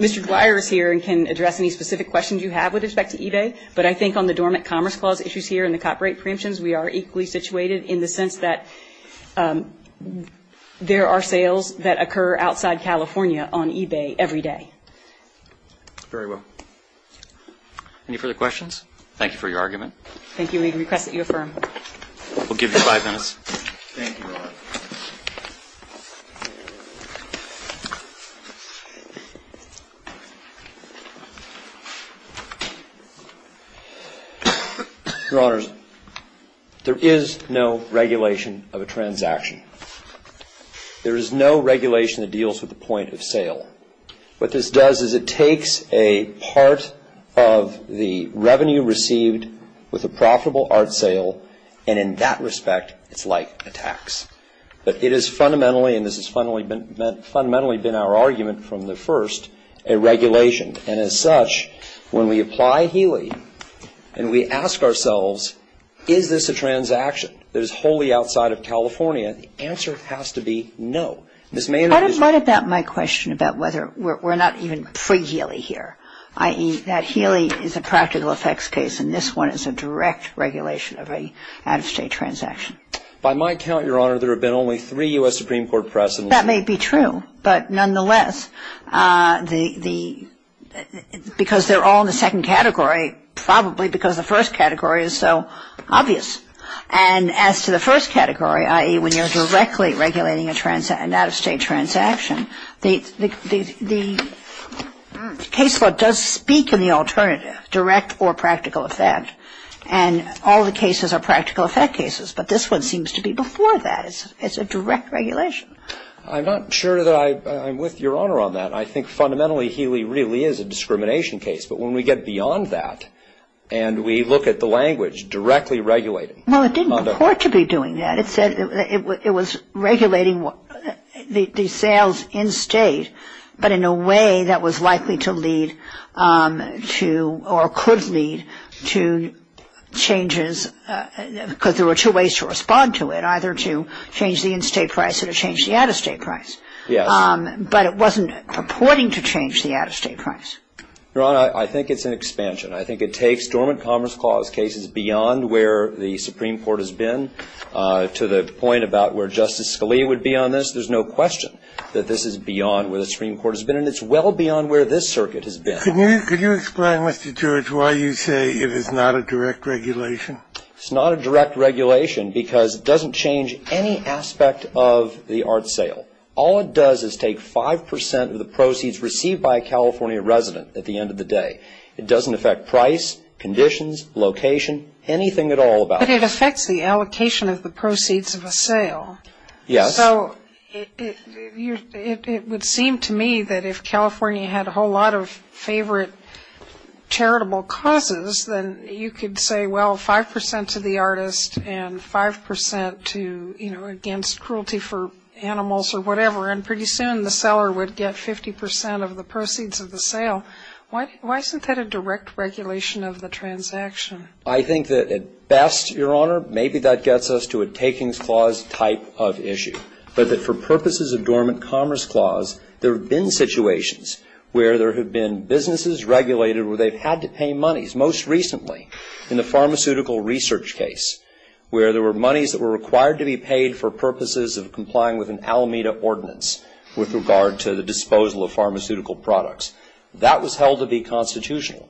Mr. Dwyer is here and can address any specific questions you have with respect to eBay. But I think on the Dormant Commerce Clause issues here and the copyright preemptions, we are equally situated in the sense that there are sales that occur outside California on eBay every day. Very well. Any further questions? Thank you for your argument. Thank you. We request that you affirm. We'll give you five minutes. Thank you, Your Honor. Your Honors, there is no regulation of a transaction. There is no regulation that deals with the point of sale. What this does is it takes a part of the revenue received with a profitable art sale, and in that respect, it's like a tax. But it is fundamentally, and this has fundamentally been our argument from the first, a regulation. And as such, when we apply Healey and we ask ourselves, is this a transaction that is wholly outside of California, the answer has to be no. I don't mind about my question about whether we're not even pre-Healey here, i.e., that Healey is a practical effects case and this one is a direct regulation of an out-of-state transaction. By my count, Your Honor, there have been only three U.S. Supreme Court pressings. That may be true, but nonetheless, because they're all in the second category, probably because the first category is so obvious. And as to the first category, i.e., when you're directly regulating an out-of-state transaction, the case law does speak in the alternative, direct or practical effect. And all the cases are practical effect cases, but this one seems to be before that. It's a direct regulation. I'm not sure that I'm with Your Honor on that. I think fundamentally Healey really is a discrimination case. But when we get beyond that and we look at the language, directly regulating. Well, it didn't purport to be doing that. It said it was regulating the sales in state, but in a way that was likely to lead to or could lead to changes because there were two ways to respond to it, either to change the in-state price or to change the out-of-state price. Yes. But it wasn't purporting to change the out-of-state price. Your Honor, I think it's an expansion. I think it takes Dormant Commerce Clause cases beyond where the Supreme Court has been to the point about where Justice Scalia would be on this. There's no question that this is beyond where the Supreme Court has been, and it's well beyond where this circuit has been. Can you explain, Mr. George, why you say it is not a direct regulation? It's not a direct regulation because it doesn't change any aspect of the art sale. All it does is take 5% of the proceeds received by a California resident at the end of the day. It doesn't affect price, conditions, location, anything at all about it. But it affects the allocation of the proceeds of a sale. Yes. So it would seem to me that if California had a whole lot of favorite charitable causes, then you could say, well, 5% to the artist and 5% to, you know, against cruelty for animals or whatever, and pretty soon the seller would get 50% of the proceeds of the sale. Why isn't that a direct regulation of the transaction? I think that at best, Your Honor, maybe that gets us to a Takings Clause type of issue, but that for purposes of Dormant Commerce Clause, there have been situations where there have been businesses regulated where they've had to pay monies, most recently in the pharmaceutical research case, where there were monies that were required to be paid for purposes of complying with an Alameda ordinance with regard to the disposal of pharmaceutical products. That was held to be constitutional.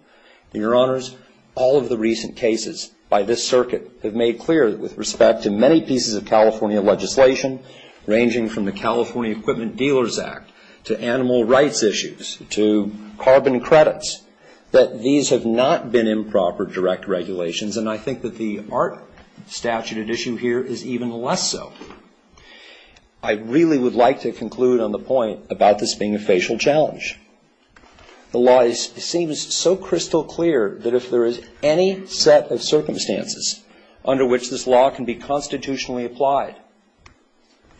And, Your Honors, all of the recent cases by this circuit have made clear that with respect to many pieces of California legislation, ranging from the California Equipment Dealers Act to animal rights issues to carbon credits, that these have not been improper direct regulations, and I think that the art statute at issue here is even less so. I really would like to conclude on the point about this being a facial challenge. The law seems so crystal clear that if there is any set of circumstances under which this law can be constitutionally applied,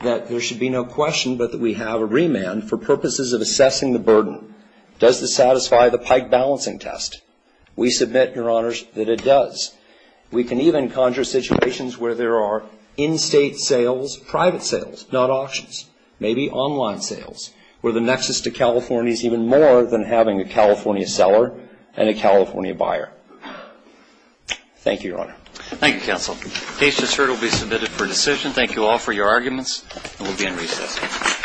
that there should be no question but that we have a remand for purposes of assessing the burden. Does this satisfy the Pike Balancing Test? We submit, Your Honors, that it does. We can even conjure situations where there are in-state sales, private sales, not auctions, maybe online sales, where the nexus to California is even more than having a California seller and a California buyer. Thank you, Your Honor. Thank you, counsel. The case is heard. It will be submitted for decision. Thank you all for your arguments, and we'll be in recess.